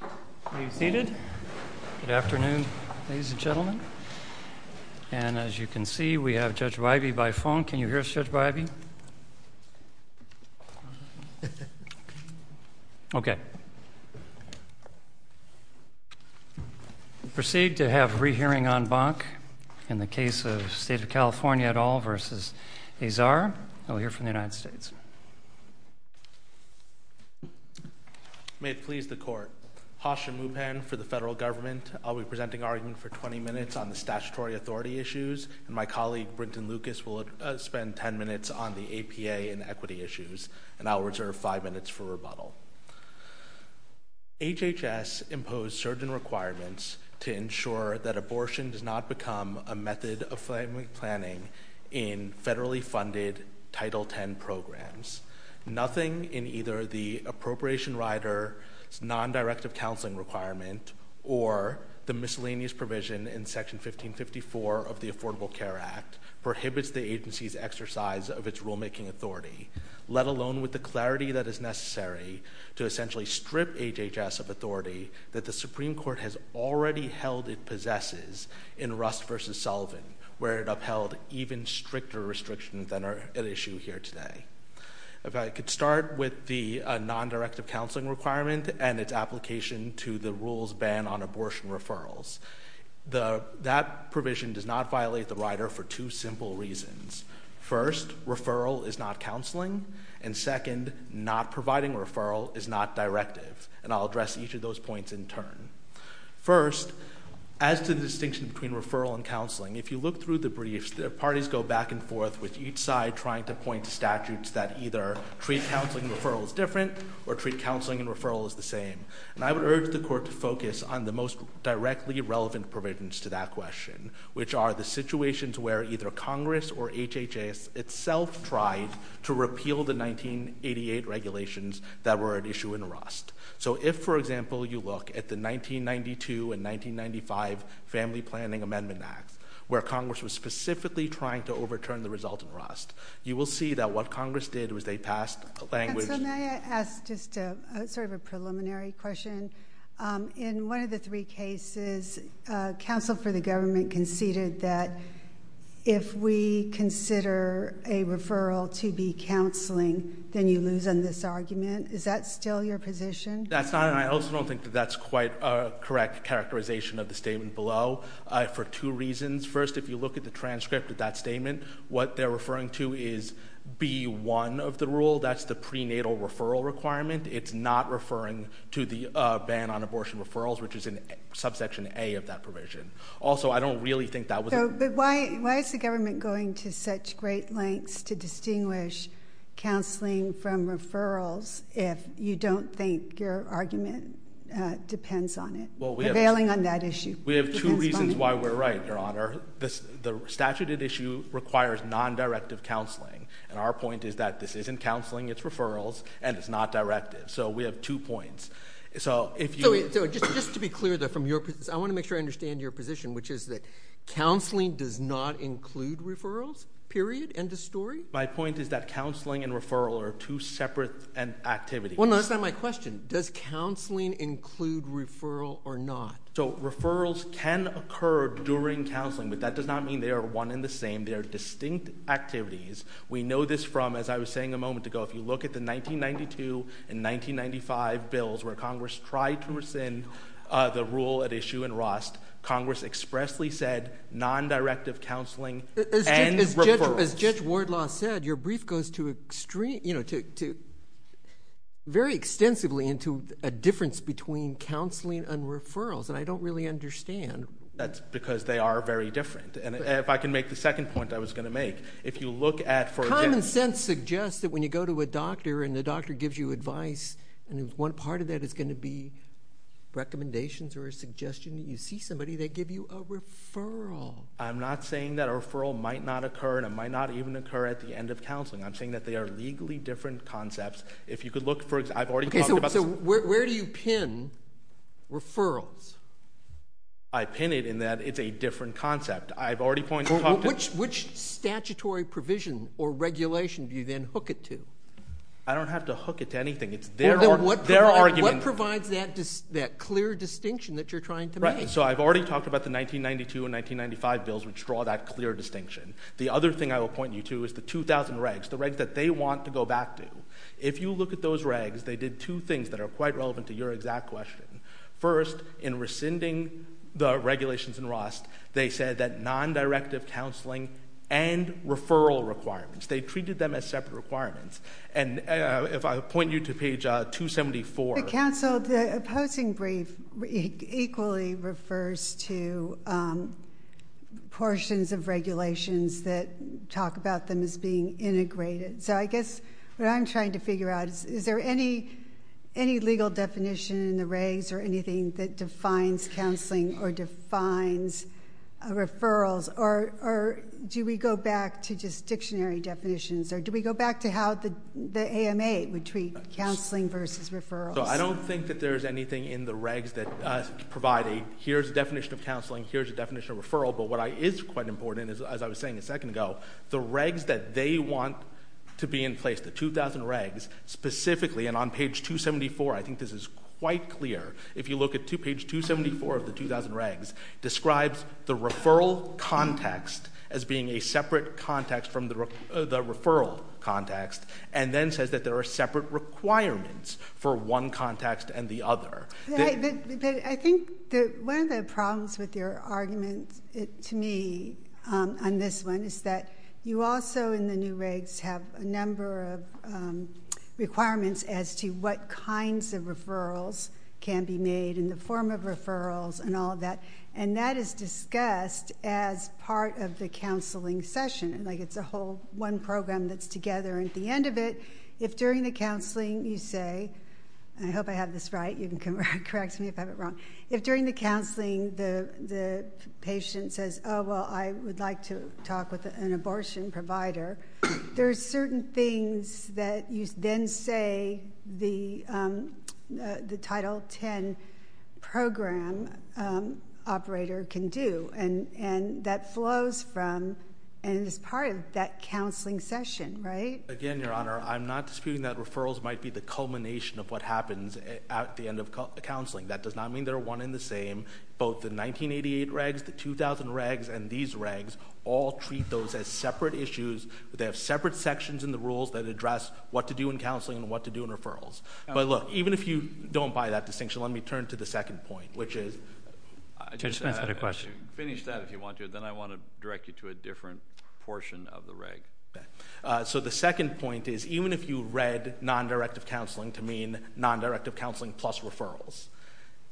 Are you seated? Good afternoon, ladies and gentlemen. And as you can see, we have Judge Bybee by phone. Can you hear us, Judge Bybee? Okay. Proceed to have re-hearing en banc in the case of State of California et al. v. Azar. I'll hear from the United States. May it please the Court. Hashim Mupen for the Federal Government. I'll be presenting argument for 20 minutes on the statutory authority issues. And my colleague, Brinton Lucas, will spend 10 minutes on the APA and equity issues. And I'll reserve 5 minutes for rebuttal. HHS imposed certain requirements to ensure that abortion does not become a method of family planning in federally funded Title X programs. Nothing in either the appropriation rider's non-directive counseling requirement or the miscellaneous provision in Section 1554 of the Affordable Care Act prohibits the agency's exercise of its rulemaking authority, let alone with the clarity that is necessary to essentially strip HHS of authority that the Supreme Court has already held it possesses in Rust v. Sullivan, where it upheld even stricter restrictions than are at issue here today. If I could start with the non-directive counseling requirement and its application to the rules ban on abortion referrals. That provision does not violate the rider for two simple reasons. First, referral is not counseling. And second, not providing referral is not directive. And I'll address each of those points in turn. First, as to the distinction between referral and counseling, if you look through the briefs, the parties go back and forth with each side trying to point to statutes that either treat counseling and referral as different or treat counseling and referral as the same. And I would urge the Court to focus on the most directly relevant provisions to that question, which are the situations where either Congress or HHS itself tried to repeal the 1988 regulations that were at issue in Rust. So if, for example, you look at the 1992 and 1995 Family Planning Amendment Act, where Congress was specifically trying to overturn the result in Rust, you will see that what Congress did was they passed a language... Counsel, may I ask just sort of a preliminary question? In one of the three cases, counsel for the government conceded that if we consider a referral to be counseling, then you lose on this argument. Is that still your position? That's not, and I also don't think that that's quite a correct characterization of the statement below for two reasons. First, if you look at the transcript of that statement, what they're referring to is B-1 of the rule. That's the prenatal referral requirement. It's not referring to the ban on abortion referrals, which is in Subsection A of that provision. Also, I don't really think that was... But why is the government going to such great lengths to distinguish counseling from referrals if you don't think your argument depends on it, or bailing on that issue? We have two reasons why we're right, Your Honor. The statute at issue requires non-directive counseling, and our point is that this isn't counseling. It's referrals, and it's not directive. So we have two points. So if you... So just to be clear, though, from your position, I want to make sure I understand your position, which is that counseling does not include referrals, period, end of story? My point is that counseling and referral are two separate activities. Well, no, that's not my question. Does counseling include referral or not? So referrals can occur during counseling, but that does not mean they are one and the same. They are distinct activities. We know this from, as I was saying a moment ago, if you look at the 1992 and 1995 bills where Congress tried to rescind the rule at issue in Ross, Congress expressly said non-directive counseling and referrals. As Judge Wardlaw said, your brief goes very extensively into a difference between counseling and referrals, and I don't really understand. That's because they are very different. And if I can make the second point I was going to make, if you look at... Common sense suggests that when you go to a doctor and the doctor gives you advice, and if one part of that is going to be recommendations or a suggestion that you see somebody, they give you a referral. I'm not saying that a referral might not occur and it might not even occur at the end of counseling. I'm saying that they are legally different concepts. If you could look for example... Okay, so where do you pin referrals? I pin it in that it's a different concept. I've already pointed out... Which statutory provision or regulation do you then hook it to? I don't have to hook it to anything. It's their argument. What provides that clear distinction that you're trying to make? Right, so I've already talked about the 1992 and 1995 bills which draw that clear distinction. The other thing I will point you to is the 2000 regs, the regs that they want to go back to. If you look at those regs, they did two things that are quite relevant to your exact question. First, in rescinding the regulations in ROST, they said that non-directive counseling and referral requirements, they treated them as separate requirements. And if I point you to page 274... Counsel, the opposing brief equally refers to portions of regulations that talk about them as being integrated. So I guess what I'm trying to figure out is, is there any legal definition in the regs or anything that defines counseling or defines referrals? Or do we go back to just dictionary definitions? Or do we go back to how the AMA would treat counseling versus referrals? So I don't think that there's anything in the regs that provide a, here's a definition of counseling, here's a definition of referral. But what is quite important, as I was saying a second ago, the regs that they want to be in place, the 2000 regs, specifically, and on page 274, I think this is quite clear, if you look at page 274 of the 2000 regs, describes the referral context as being a separate context from the referral context and then says that there are separate requirements for one context and the other. I think that one of the problems with your argument, to me, on this one, is that you also in the new regs have a number of requirements as to what kinds of referrals can be made in the form of referrals and all of that. And that is discussed as part of the counseling session. Like, it's a whole one program that's together. And at the end of it, if during the counseling you say, and I hope I have this right, you can correct me if I have it wrong, if during the counseling the patient says, oh, well, I would like to talk with an abortion provider, there are certain things that you then say the Title X program operator can do. And that flows from and is part of that counseling session, right? Again, Your Honor, I'm not disputing that referrals might be the culmination of what happens at the end of counseling. That does not mean they're one and the same. Both the 1988 regs, the 2000 regs, and these regs all treat those as separate issues. They have separate sections in the rules that address what to do in counseling and what to do in referrals. But, look, even if you don't buy that distinction, let me turn to the second point, which is finish that if you want to, then I want to direct you to a different portion of the reg. So the second point is even if you read nondirective counseling to mean nondirective counseling plus referrals,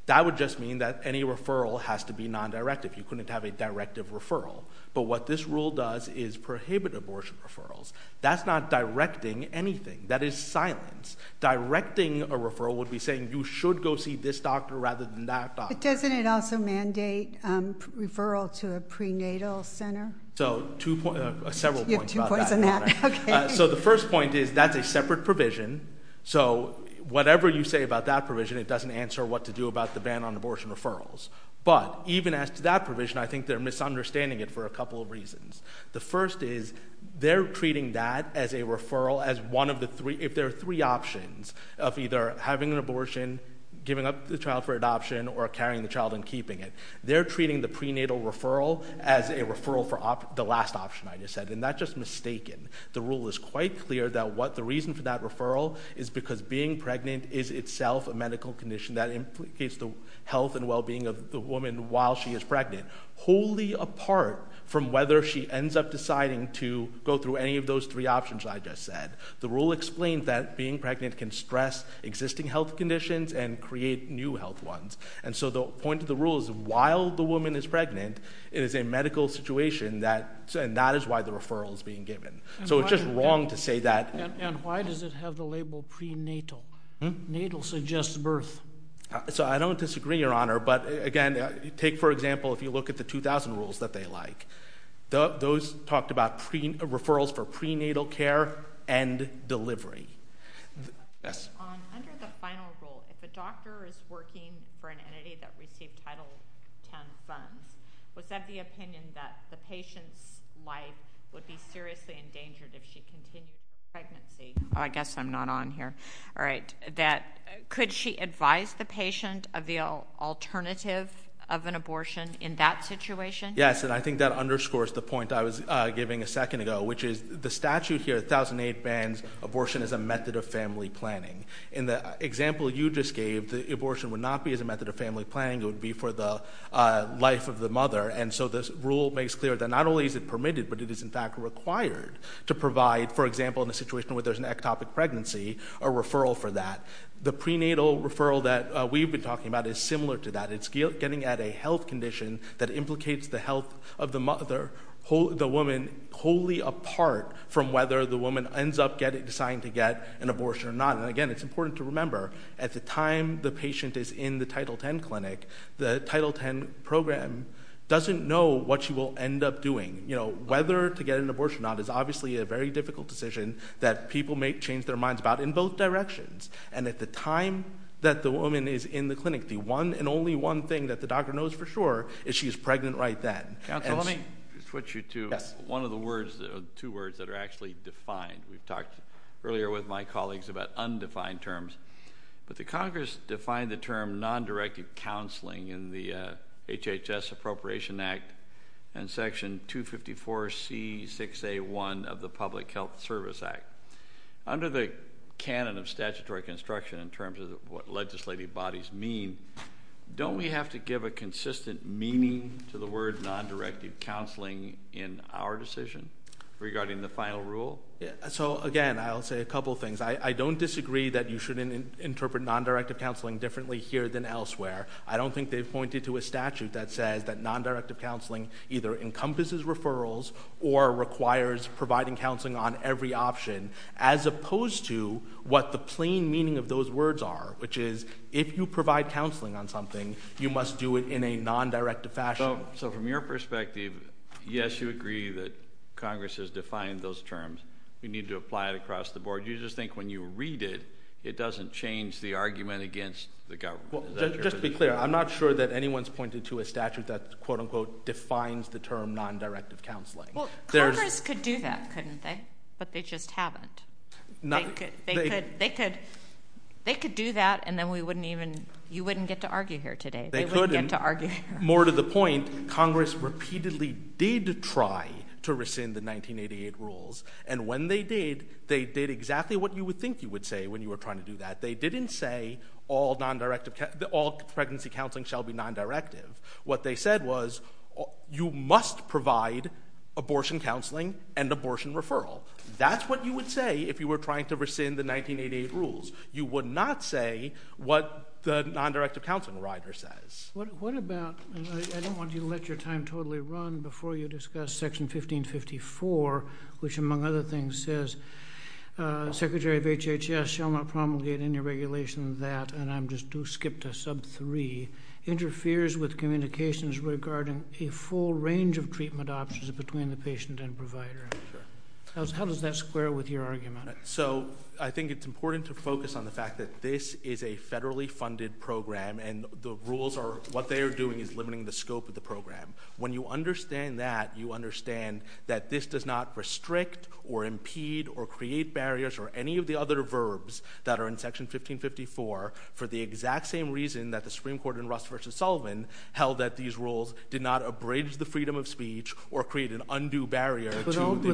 that would just mean that any referral has to be nondirective. You couldn't have a directive referral. But what this rule does is prohibit abortion referrals. That's not directing anything. That is silence. Directing a referral would be saying you should go see this doctor rather than that doctor. But doesn't it also mandate referral to a prenatal center? So several points about that. You have two points on that. Okay. So the first point is that's a separate provision. So whatever you say about that provision, it doesn't answer what to do about the ban on abortion referrals. But even as to that provision, I think they're misunderstanding it for a couple of reasons. The first is they're treating that as a referral as one of the three. If there are three options of either having an abortion, giving up the child for adoption, or carrying the child and keeping it, they're treating the prenatal referral as a referral for the last option I just said, and that's just mistaken. The rule is quite clear that what the reason for that referral is because being pregnant is itself a medical condition that implicates the health and well-being of the woman while she is pregnant, wholly apart from whether she ends up deciding to go through any of those three options I just said. The rule explains that being pregnant can stress existing health conditions and create new health ones. And so the point of the rule is while the woman is pregnant, it is a medical situation, and that is why the referral is being given. So it's just wrong to say that. And why does it have the label prenatal? Natal suggests birth. So I don't disagree, Your Honor, but, again, take, for example, if you look at the 2,000 rules that they like. Those talked about referrals for prenatal care and delivery. Yes? Under the final rule, if a doctor is working for an entity that received Title X funds, was that the opinion that the patient's life would be seriously endangered if she continued her pregnancy? I guess I'm not on here. All right. Could she advise the patient of the alternative of an abortion in that situation? Yes, and I think that underscores the point I was giving a second ago, which is the statute here, 1008, bans abortion as a method of family planning. In the example you just gave, the abortion would not be as a method of family planning. It would be for the life of the mother. And so this rule makes clear that not only is it permitted, but it is, in fact, required to provide, for example, in a situation where there's an ectopic pregnancy, a referral for that. The prenatal referral that we've been talking about is similar to that. It's getting at a health condition that implicates the health of the woman wholly apart from whether the woman ends up deciding to get an abortion or not. And, again, it's important to remember, at the time the patient is in the Title X clinic, the Title X program doesn't know what she will end up doing. You know, whether to get an abortion or not is obviously a very difficult decision that people may change their minds about in both directions. And at the time that the woman is in the clinic, the one and only one thing that the doctor knows for sure is she is pregnant right then. Counsel, let me switch you to one of the words, two words that are actually defined. We've talked earlier with my colleagues about undefined terms. But the Congress defined the term non-directed counseling in the HHS Appropriation Act and Section 254C6A1 of the Public Health Service Act. Under the canon of statutory construction in terms of what legislative bodies mean, don't we have to give a consistent meaning to the word non-directed counseling in our decision regarding the final rule? So, again, I'll say a couple things. I don't disagree that you shouldn't interpret non-directed counseling differently here than elsewhere. I don't think they've pointed to a statute that says that non-directed counseling either encompasses referrals or requires providing counseling on every option as opposed to what the plain meaning of those words are, which is if you provide counseling on something, you must do it in a non-directed fashion. So from your perspective, yes, you agree that Congress has defined those terms. We need to apply it across the board. Do you just think when you read it, it doesn't change the argument against the government? Just to be clear, I'm not sure that anyone's pointed to a statute that, quote-unquote, defines the term non-directed counseling. Congress could do that, couldn't they? But they just haven't. They could do that, and then you wouldn't get to argue here today. They couldn't. They wouldn't get to argue here. More to the point, Congress repeatedly did try to rescind the 1988 rules, and when they did, they did exactly what you would think you would say when you were trying to do that. They didn't say all pregnancy counseling shall be non-directive. What they said was you must provide abortion counseling and abortion referral. That's what you would say if you were trying to rescind the 1988 rules. You would not say what the non-directive counseling rider says. What about, and I don't want you to let your time totally run before you discuss Section 1554, which, among other things, says, Secretary of HHS shall not promulgate any regulation that, and I'll just skip to Sub 3, interferes with communications regarding a full range of treatment options between the patient and provider. How does that square with your argument? So I think it's important to focus on the fact that this is a federally funded program, and the rules are what they are doing is limiting the scope of the program. When you understand that, you understand that this does not restrict or impede or create barriers or any of the other verbs that are in Section 1554, for the exact same reason that the Supreme Court in Russ v. Sullivan held that these rules did not abridge the freedom of speech or create an undue barrier to the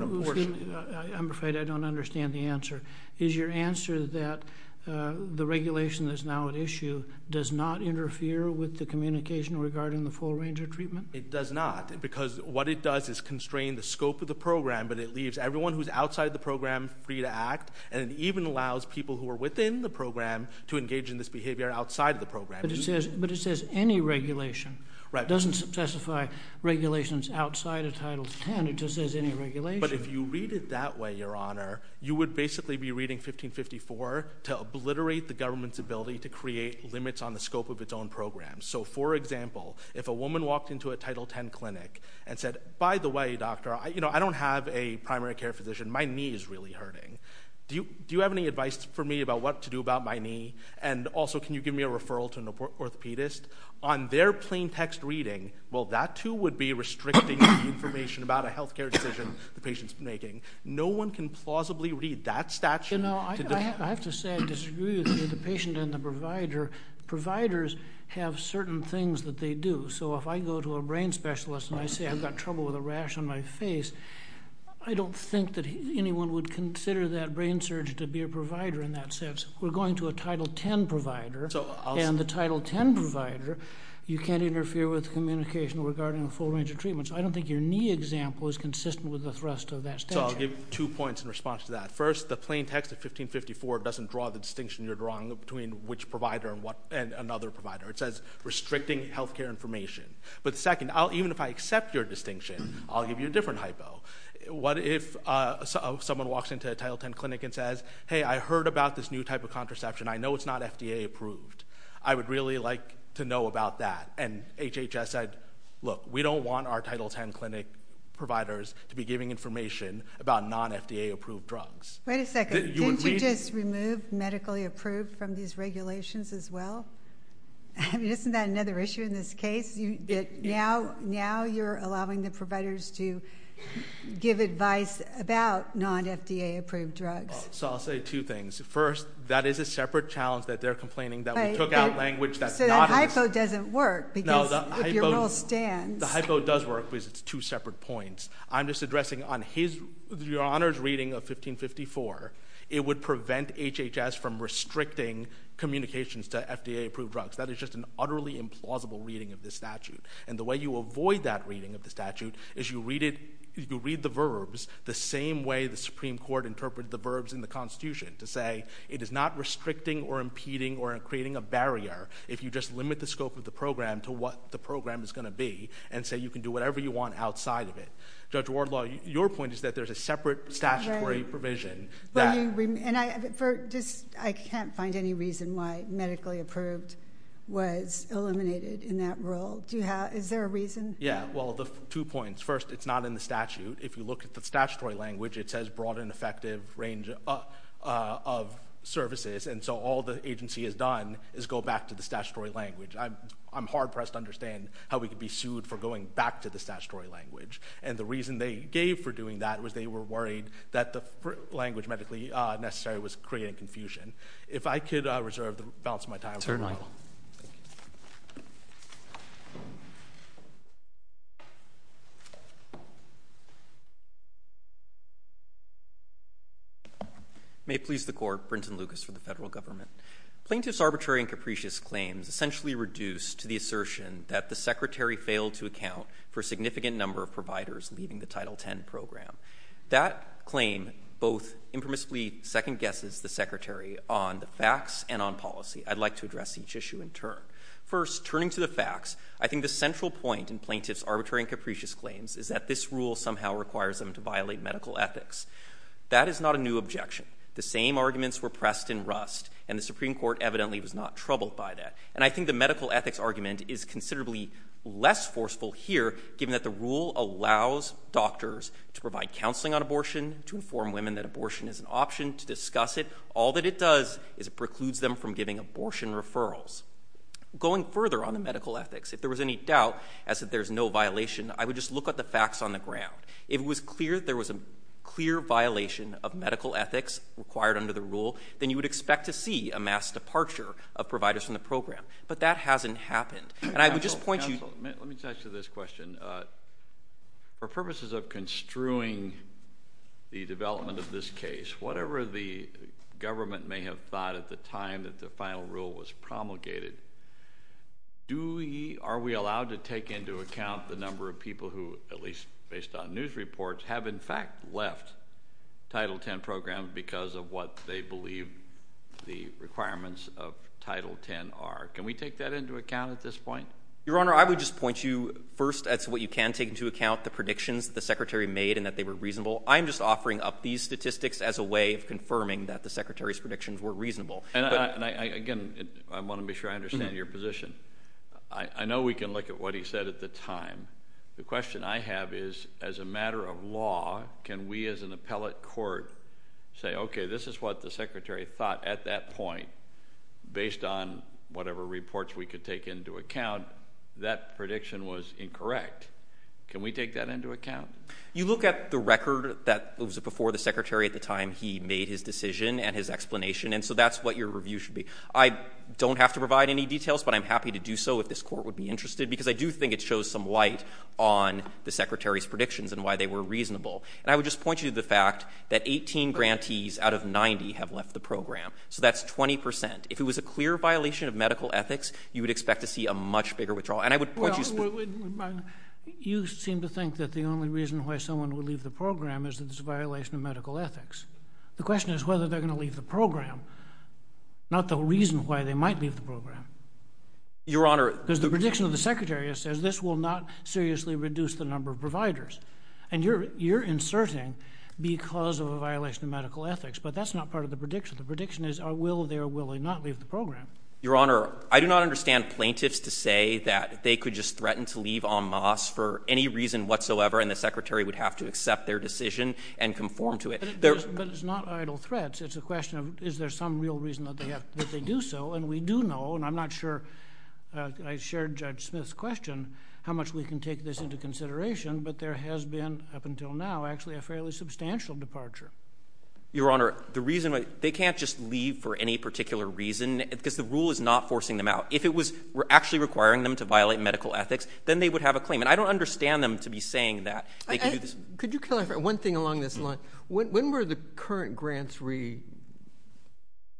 abortion. I'm afraid I don't understand the answer. Is your answer that the regulation that's now at issue does not interfere with the communication regarding the full range of treatment? It does not, because what it does is constrain the scope of the program, but it leaves everyone who's outside the program free to act, and it even allows people who are within the program to engage in this behavior outside of the program. But it says any regulation. Right. It doesn't specify regulations outside of Title X. It just says any regulation. But if you read it that way, Your Honor, you would basically be reading 1554 to obliterate the government's ability to create limits on the scope of its own programs. So, for example, if a woman walked into a Title X clinic and said, By the way, doctor, I don't have a primary care physician. My knee is really hurting. Do you have any advice for me about what to do about my knee? And also, can you give me a referral to an orthopedist? On their plain text reading, well, that too would be restricting the information about a health care decision the patient's making. No one can plausibly read that statute. I have to say I disagree with you. The patient and the provider, providers have certain things that they do. So if I go to a brain specialist and I say I've got trouble with a rash on my face, I don't think that anyone would consider that brain surge to be a provider in that sense. We're going to a Title X provider, and the Title X provider, you can't interfere with communication regarding a full range of treatments. I don't think your knee example is consistent with the thrust of that statute. So I'll give two points in response to that. First, the plain text of 1554 doesn't draw the distinction you're drawing between which provider and another provider. It says restricting health care information. But second, even if I accept your distinction, I'll give you a different hypo. What if someone walks into a Title X clinic and says, Hey, I heard about this new type of contraception. I know it's not FDA approved. I would really like to know about that. And HHS said, Look, we don't want our Title X clinic providers to be giving information about non-FDA approved drugs. Wait a second. Didn't you just remove medically approved from these regulations as well? Isn't that another issue in this case? Now you're allowing the providers to give advice about non-FDA approved drugs. So I'll say two things. First, that is a separate challenge that they're complaining that we took out language that's not in this. No, the hypo does work because it's two separate points. I'm just addressing on your Honor's reading of 1554, it would prevent HHS from restricting communications to FDA approved drugs. That is just an utterly implausible reading of this statute. And the way you avoid that reading of the statute is you read the verbs the same way the Supreme Court interpreted the verbs in the Constitution to say it is not restricting or impeding or creating a barrier if you just limit the scope of the program to what the program is going to be and say you can do whatever you want outside of it. Judge Wardlaw, your point is that there's a separate statutory provision. I can't find any reason why medically approved was eliminated in that rule. Is there a reason? Yeah. Well, the two points. First, it's not in the statute. If you look at the statutory language, it says broad and effective range of services. And so all the agency has done is go back to the statutory language. I'm hard-pressed to understand how we could be sued for going back to the statutory language. And the reason they gave for doing that was they were worried that the language medically necessary was creating confusion. If I could reserve the balance of my time. Certainly. Thank you. May it please the Court. Brenton Lucas for the Federal Government. Plaintiffs' arbitrary and capricious claims essentially reduce to the assertion that the Secretary failed to account for a significant number of providers leaving the Title X program. That claim both impermissibly second-guesses the Secretary on the facts and on policy. I'd like to address each issue in turn. First, turning to the facts, I think the central point in plaintiffs' arbitrary and capricious claims is that this rule somehow requires them to violate medical ethics. That is not a new objection. The same arguments were pressed in Rust, and the Supreme Court evidently was not troubled by that. And I think the medical ethics argument is considerably less forceful here, given that the rule allows doctors to provide counseling on abortion, to inform women that abortion is an option, to discuss it. All that it does is it precludes them from giving abortion referrals. Going further on the medical ethics, if there was any doubt as if there's no violation, I would just look at the facts on the ground. If it was clear that there was a clear violation of medical ethics required under the rule, then you would expect to see a mass departure of providers from the program. But that hasn't happened. And I would just point you to... Counsel, let me touch to this question. For purposes of construing the development of this case, whatever the government may have thought at the time that the final rule was promulgated, are we allowed to take into account the number of people who, at least based on news reports, have in fact left Title X programs because of what they believe the requirements of Title X are? Can we take that into account at this point? Your Honor, I would just point you, first, as to what you can take into account, the predictions that the Secretary made and that they were reasonable. I'm just offering up these statistics as a way of confirming that the Secretary's predictions were reasonable. And, again, I want to be sure I understand your position. I know we can look at what he said at the time. The question I have is, as a matter of law, can we as an appellate court say, okay, this is what the Secretary thought at that point, based on whatever reports we could take into account, that prediction was incorrect. Can we take that into account? You look at the record that was before the Secretary at the time he made his decision and his explanation, and so that's what your review should be. I don't have to provide any details, but I'm happy to do so if this Court would be interested, because I do think it shows some light on the Secretary's predictions and why they were reasonable. And I would just point you to the fact that 18 grantees out of 90 have left the program, so that's 20 percent. If it was a clear violation of medical ethics, you would expect to see a much bigger withdrawal. You seem to think that the only reason why someone would leave the program is that it's a violation of medical ethics. The question is whether they're going to leave the program, not the reason why they might leave the program. Your Honor— Because the prediction of the Secretary says this will not seriously reduce the number of providers, and you're inserting because of a violation of medical ethics, but that's not part of the prediction. The prediction is, will they or will they not leave the program? Your Honor, I do not understand plaintiffs to say that they could just threaten to leave en masse for any reason whatsoever and the Secretary would have to accept their decision and conform to it. But it's not idle threats. It's a question of, is there some real reason that they do so? And we do know, and I'm not sure I shared Judge Smith's question, how much we can take this into consideration, but there has been, up until now, actually a fairly substantial departure. Your Honor, the reason—they can't just leave for any particular reason. Because the rule is not forcing them out. If it was actually requiring them to violate medical ethics, then they would have a claim. And I don't understand them to be saying that. Could you clarify one thing along this line? When were the current grants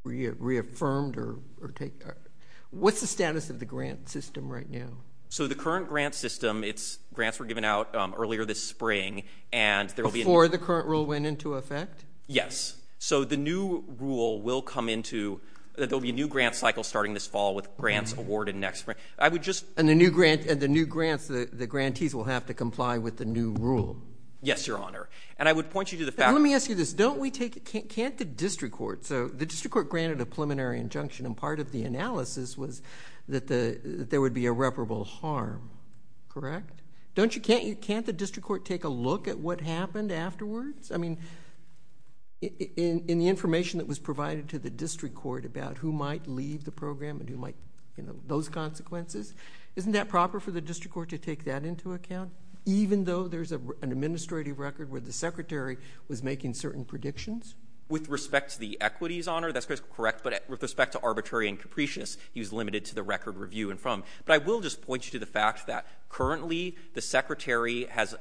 reaffirmed or taken? What's the status of the grant system right now? So the current grant system, grants were given out earlier this spring, and there will be— Before the current rule went into effect? Yes. So the new rule will come into—there will be a new grant cycle starting this fall with grants awarded next spring. I would just— And the new grants, the grantees will have to comply with the new rule. Yes, Your Honor. And I would point you to the fact— Let me ask you this. Can't the district court—so the district court granted a preliminary injunction, and part of the analysis was that there would be irreparable harm, correct? Can't the district court take a look at what happened afterwards? I mean, in the information that was provided to the district court about who might leave the program and who might, you know, those consequences, isn't that proper for the district court to take that into account, even though there's an administrative record where the secretary was making certain predictions? With respect to the equities, Your Honor, that's correct, but with respect to arbitrary and capricious, he was limited to the record review and from. But I will just point you to the fact that currently the secretary has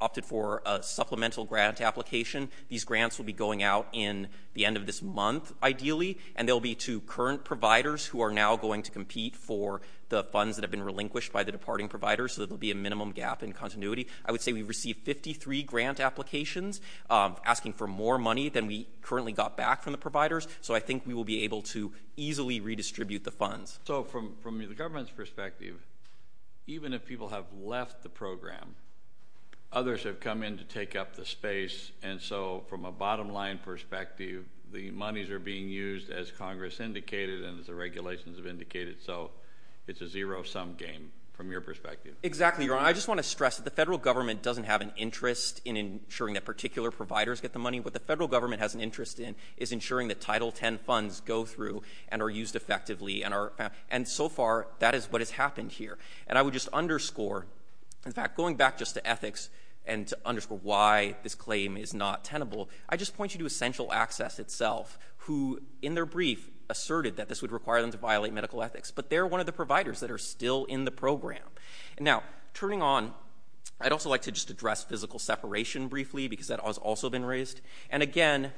opted for a supplemental grant application. These grants will be going out in the end of this month, ideally, and they'll be to current providers who are now going to compete for the funds that have been relinquished by the departing providers, so there will be a minimum gap in continuity. I would say we've received 53 grant applications asking for more money than we currently got back from the providers, so I think we will be able to easily redistribute the funds. So from the government's perspective, even if people have left the program, others have come in to take up the space, and so from a bottom line perspective, the monies are being used as Congress indicated and as the regulations have indicated, so it's a zero-sum game from your perspective. Exactly, Your Honor. I just want to stress that the federal government doesn't have an interest in ensuring that particular providers get the money. What the federal government has an interest in is ensuring that Title X funds go through and are used effectively, and so far, that is what has happened here, and I would just underscore, in fact, going back just to ethics and to underscore why this claim is not tenable, I just point you to Essential Access itself, who in their brief asserted that this would require them to violate medical ethics, but they're one of the providers that are still in the program. Now, turning on, I'd also like to just address physical separation briefly because that has also been raised, and again,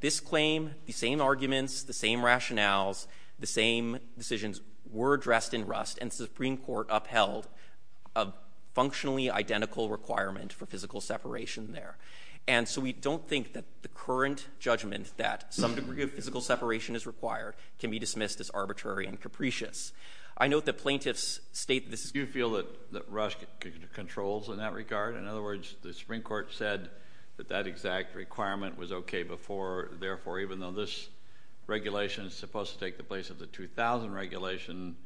this claim, the same arguments, the same rationales, the same decisions were addressed in Rust, and the Supreme Court upheld a functionally identical requirement for physical separation there, and so we don't think that the current judgment that some degree of physical separation is required can be dismissed as arbitrary and capricious. I note that plaintiffs state this. Do you feel that Rust controls in that regard? In other words, the Supreme Court said that that exact requirement was okay before, therefore, even though this regulation is supposed to take the place of the 2000 regulation,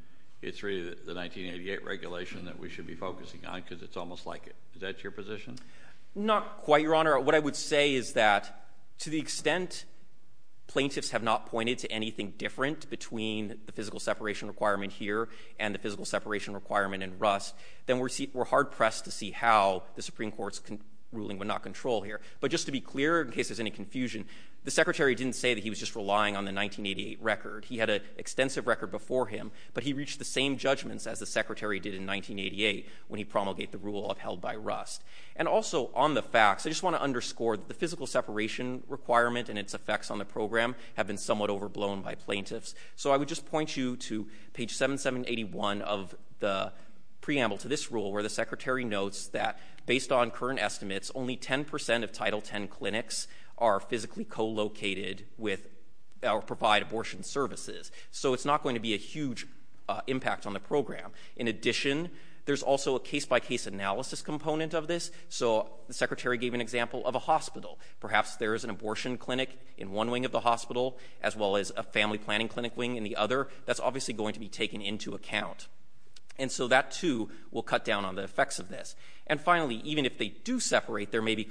it's really the 1988 regulation that we should be focusing on because it's almost like it. Is that your position? Not quite, Your Honor. What I would say is that to the extent plaintiffs have not pointed to anything different then we're hard-pressed to see how the Supreme Court's ruling would not control here. But just to be clear in case there's any confusion, the Secretary didn't say that he was just relying on the 1988 record. He had an extensive record before him, but he reached the same judgments as the Secretary did in 1988 when he promulgated the rule upheld by Rust. And also on the facts, I just want to underscore that the physical separation requirement and its effects on the program have been somewhat overblown by plaintiffs, so I would just point you to page 7781 of the preamble to this rule where the Secretary notes that based on current estimates, only 10 percent of Title X clinics are physically co-located with or provide abortion services, so it's not going to be a huge impact on the program. In addition, there's also a case-by-case analysis component of this, so the Secretary gave an example of a hospital. Perhaps there is an abortion clinic in one wing of the hospital as well as a family planning clinic wing in the other. That's obviously going to be taken into account, and so that, too, will cut down on the effects of this. And finally, even if they do separate, there may be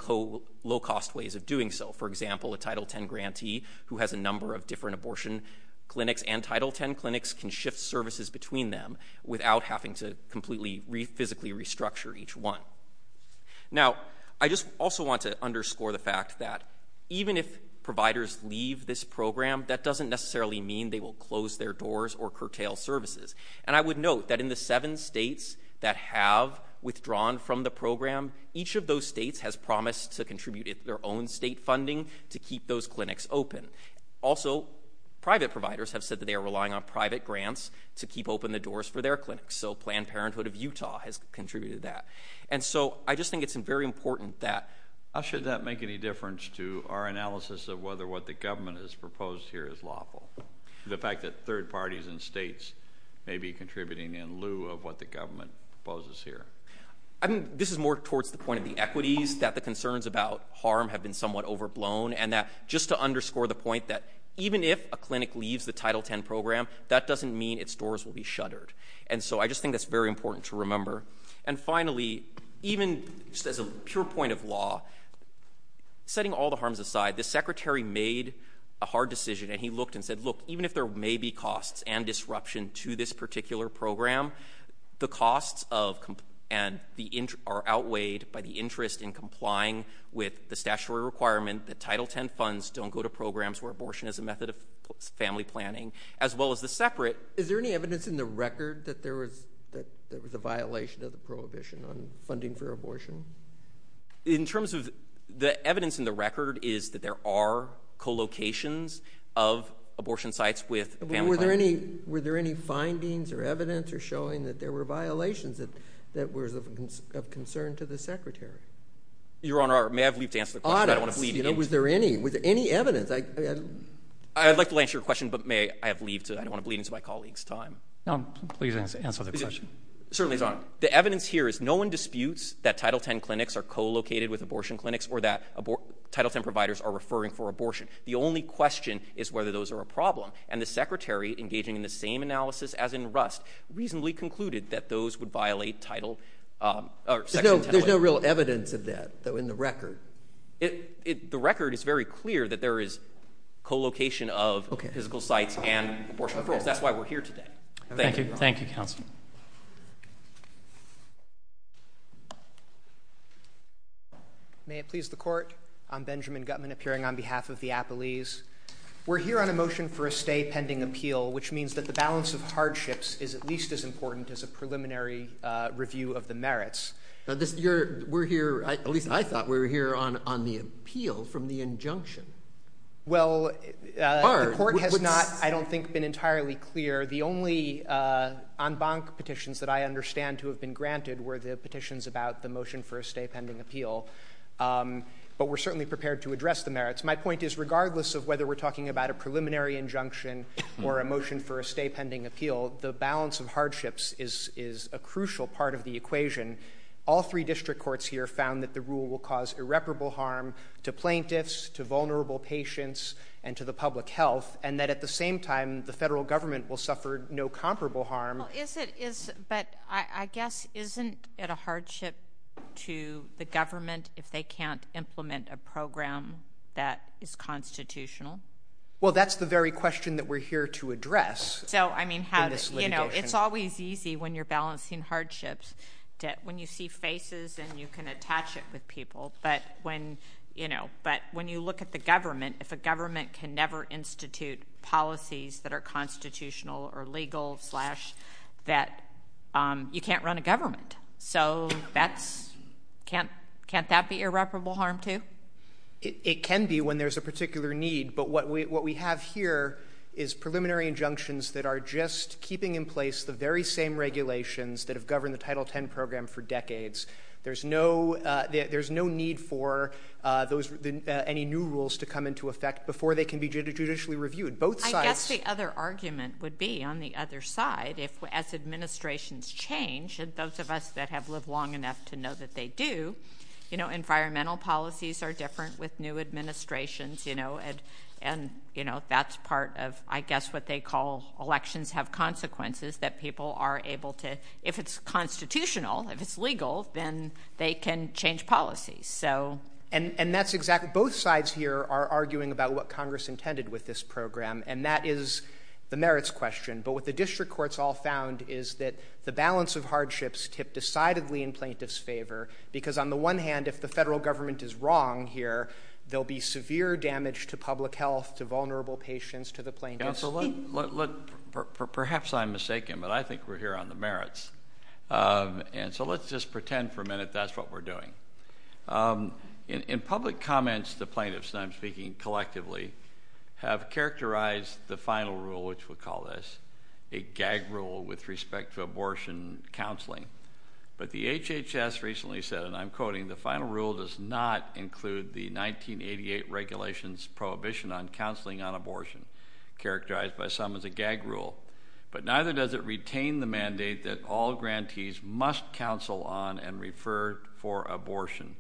low-cost ways of doing so. For example, a Title X grantee who has a number of different abortion clinics and Title X clinics can shift services between them without having to completely physically restructure each one. Now, I just also want to underscore the fact that even if providers leave this program, that doesn't necessarily mean they will close their doors or curtail services, and I would note that in the seven states that have withdrawn from the program, each of those states has promised to contribute their own state funding to keep those clinics open. Also, private providers have said that they are relying on private grants to keep open the doors for their clinics, and so Planned Parenthood of Utah has contributed to that. And so I just think it's very important that... Should that make any difference to our analysis of whether what the government has proposed here is lawful, the fact that third parties and states may be contributing in lieu of what the government proposes here? I think this is more towards the point of the equities, that the concerns about harm have been somewhat overblown, and that just to underscore the point that even if a clinic leaves the Title X program, that doesn't mean its doors will be shuttered. And so I just think that's very important to remember. And finally, even just as a pure point of law, setting all the harms aside, the Secretary made a hard decision, and he looked and said, look, even if there may be costs and disruption to this particular program, the costs are outweighed by the interest in complying with the statutory requirement that Title X funds don't go to programs where abortion is a method of family planning, as well as the separate... Was it recorded that there was a violation of the prohibition on funding for abortion? In terms of the evidence in the record is that there are co-locations of abortion sites with family planning. Were there any findings or evidence or showing that there were violations that were of concern to the Secretary? Your Honor, may I have leave to answer the question? I don't want to bleed into... Audits. Was there any evidence? I'd like to answer your question, but may I have leave to... No, please answer the question. Certainly, Your Honor. The evidence here is no one disputes that Title X clinics are co-located with abortion clinics or that Title X providers are referring for abortion. The only question is whether those are a problem. And the Secretary, engaging in the same analysis as in Rust, reasonably concluded that those would violate Title... There's no real evidence of that, though, in the record. The record is very clear that there is co-location of physical sites and abortion referrals. That's why we're here today. Thank you, Your Honor. Thank you, Counsel. May it please the Court? I'm Benjamin Guttman, appearing on behalf of the Appellees. We're here on a motion for a stay pending appeal, which means that the balance of hardships is at least as important as a preliminary review of the merits. We're here, at least I thought we were here, on the appeal from the injunction. Well, the Court has not, I don't think, been entirely clear. The only en banc petitions that I understand to have been granted were the petitions about the motion for a stay pending appeal. But we're certainly prepared to address the merits. My point is, regardless of whether we're talking about a preliminary injunction or a motion for a stay pending appeal, the balance of hardships is a crucial part of the equation. All three district courts here found that the rule will cause irreparable harm to plaintiffs, to vulnerable patients, and to the public health, and that at the same time the federal government will suffer no comparable harm. But I guess isn't it a hardship to the government if they can't implement a program that is constitutional? Well, that's the very question that we're here to address in this litigation. It's always easy when you're balancing hardships, when you see faces and you can attach it with people, but when you look at the government, if a government can never institute policies that are constitutional or legal that you can't run a government. So can't that be irreparable harm too? It can be when there's a particular need, but what we have here is preliminary injunctions that are just keeping in place the very same regulations that have governed the Title X program for decades. There's no need for any new rules to come into effect before they can be judicially reviewed. I guess the other argument would be on the other side, as administrations change, and those of us that have lived long enough to know that they do, environmental policies are different with new administrations, and that's part of, I guess, what they call elections have consequences, that people are able to, if it's constitutional, if it's legal, then they can change policies. And that's exactly, both sides here are arguing about what Congress intended with this program, and that is the merits question. But what the district courts all found is that the balance of hardships tip decidedly in plaintiffs' favor because, on the one hand, if the federal government is wrong here, there will be severe damage to public health, to vulnerable patients, to the plaintiffs. Perhaps I'm mistaken, but I think we're here on the merits. And so let's just pretend for a minute that's what we're doing. In public comments, the plaintiffs, and I'm speaking collectively, have characterized the final rule, which we'll call this, a gag rule with respect to abortion counseling. But the HHS recently said, and I'm quoting, the final rule does not include the 1988 regulations prohibition on counseling on abortion, characterized by some as a gag rule, but neither does it retain the mandate that all grantees must counsel on and refer for abortion.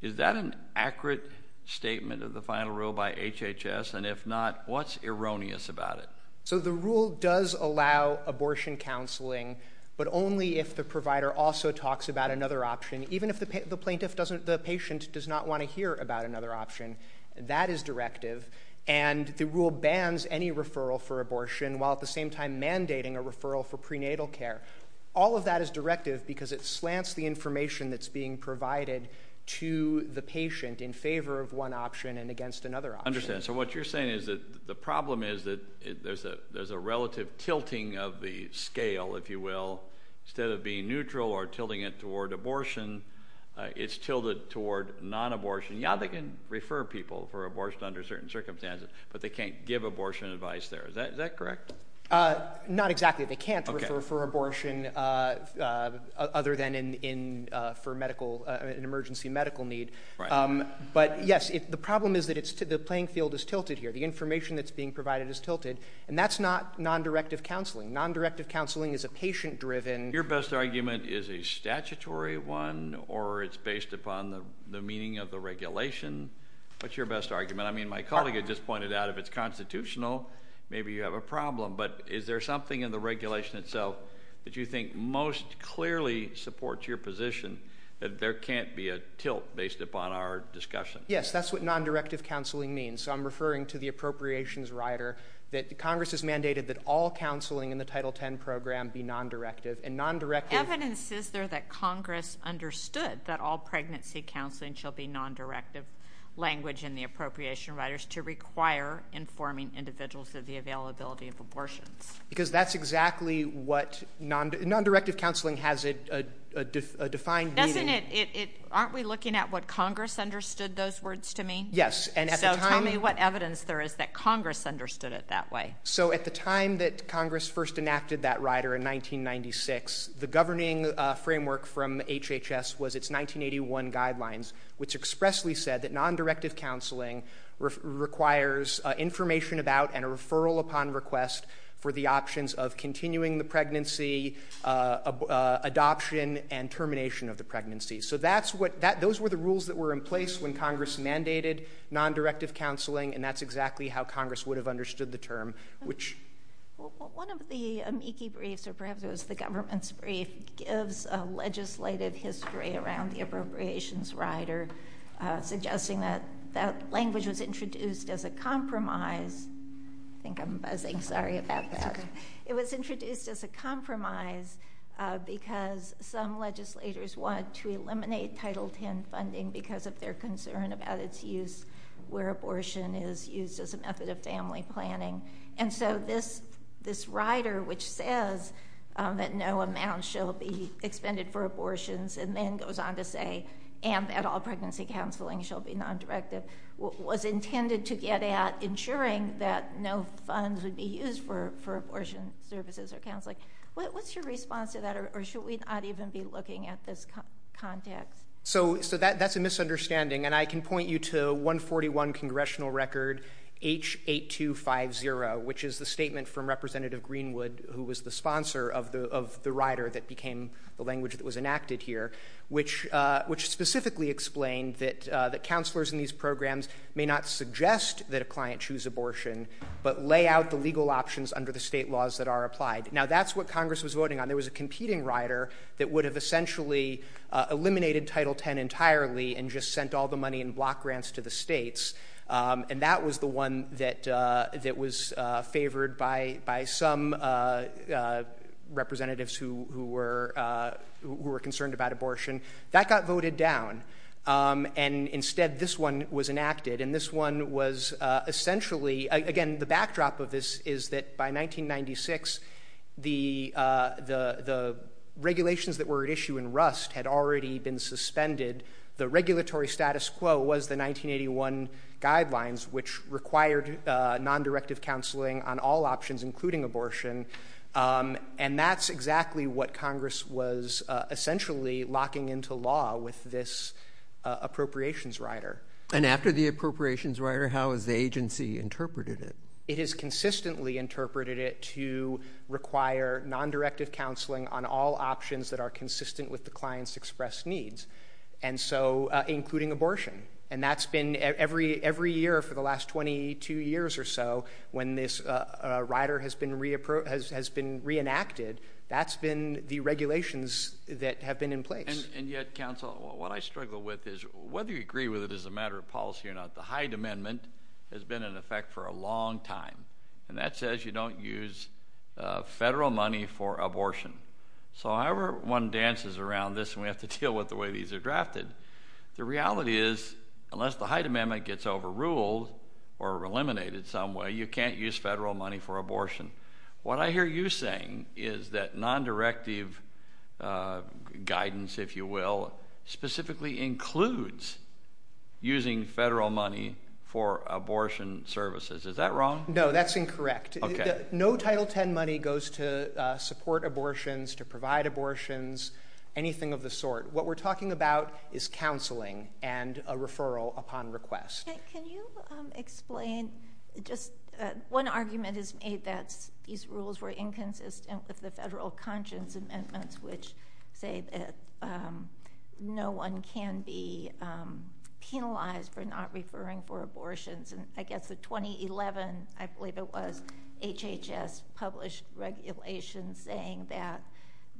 Is that an accurate statement of the final rule by HHS, and if not, what's erroneous about it? So the rule does allow abortion counseling, but only if the provider also talks about another option, even if the patient does not want to hear about another option. That is directive, and the rule bans any referral for abortion, while at the same time mandating a referral for prenatal care. All of that is directive because it slants the information that's being provided to the patient in favor of one option and against another option. I understand. So what you're saying is that the problem is that there's a relative tilting of the scale, if you will. Instead of being neutral or tilting it toward abortion, it's tilted toward non-abortion. Yeah, they can refer people for abortion under certain circumstances, but they can't give abortion advice there. Is that correct? Not exactly. They can't refer for abortion other than for an emergency medical need. But yes, the problem is that the playing field is tilted here. The information that's being provided is tilted, and that's not non-directive counseling. Non-directive counseling is a patient-driven. Your best argument is a statutory one, or it's based upon the meaning of the regulation. What's your best argument? I mean, my colleague had just pointed out if it's constitutional, maybe you have a problem. But is there something in the regulation itself that you think most clearly supports your position that there can't be a tilt based upon our discussion? Yes, that's what non-directive counseling means. So I'm referring to the appropriations rider that Congress has mandated that all counseling in the Title X program be non-directive. Evidence is there that Congress understood that all pregnancy counseling shall be non-directive language in the appropriation riders to require informing individuals of the availability of abortions. Because that's exactly what non-directive counseling has a defined meaning. Aren't we looking at what Congress understood those words to mean? Yes. So tell me what evidence there is that Congress understood it that way. So at the time that Congress first enacted that rider in 1996, the governing framework from HHS was its 1981 guidelines, which expressly said that non-directive counseling requires information about and a referral upon request for the options of continuing the pregnancy, adoption, and termination of the pregnancy. So those were the rules that were in place when Congress mandated non-directive counseling, and that's exactly how Congress would have understood the term. One of the amici briefs, or perhaps it was the government's brief, gives a legislated history around the appropriations rider, suggesting that that language was introduced as a compromise. I think I'm buzzing. Sorry about that. It was introduced as a compromise because some legislators wanted to eliminate Title X funding because of their concern about its use where abortion is used as a method of family planning. And so this rider, which says that no amount shall be expended for abortions, and then goes on to say, and that all pregnancy counseling shall be non-directive, was intended to get at ensuring that no funds would be used for abortion services or counseling. What's your response to that, or should we not even be looking at this context? So that's a misunderstanding, and I can point you to 141 Congressional Record H8250, which is the statement from Representative Greenwood, who was the sponsor of the rider that became the language that was enacted here, which specifically explained that counselors in these programs may not suggest that a client choose abortion, but lay out the legal options under the state laws that are applied. Now that's what Congress was voting on. There was a competing rider that would have essentially eliminated Title X entirely and just sent all the money in block grants to the states, and that was the one that was favored by some representatives who were concerned about abortion. That got voted down, and instead this one was enacted. And this one was essentially, again, the backdrop of this is that by 1996, the regulations that were at issue in Rust had already been suspended. The regulatory status quo was the 1981 guidelines, which required nondirective counseling on all options, including abortion, and that's exactly what Congress was essentially locking into law with this appropriations rider. And after the appropriations rider, how has the agency interpreted it? It has consistently interpreted it to require nondirective counseling on all options that are consistent with the client's expressed needs, and so including abortion. And that's been every year for the last 22 years or so when this rider has been reenacted. That's been the regulations that have been in place. And yet, counsel, what I struggle with is whether you agree with it as a matter of policy or not, the Hyde Amendment has been in effect for a long time, and that says you don't use federal money for abortion. So however one dances around this and we have to deal with the way these are drafted, the reality is unless the Hyde Amendment gets overruled or eliminated some way, you can't use federal money for abortion. What I hear you saying is that nondirective guidance, if you will, specifically includes using federal money for abortion services. Is that wrong? No, that's incorrect. No Title X money goes to support abortions, to provide abortions, anything of the sort. What we're talking about is counseling and a referral upon request. Can you explain just one argument is made that these rules were inconsistent with the federal conscience amendments which say that no one can be penalized for not referring for abortions. I guess the 2011, I believe it was, HHS published regulations saying that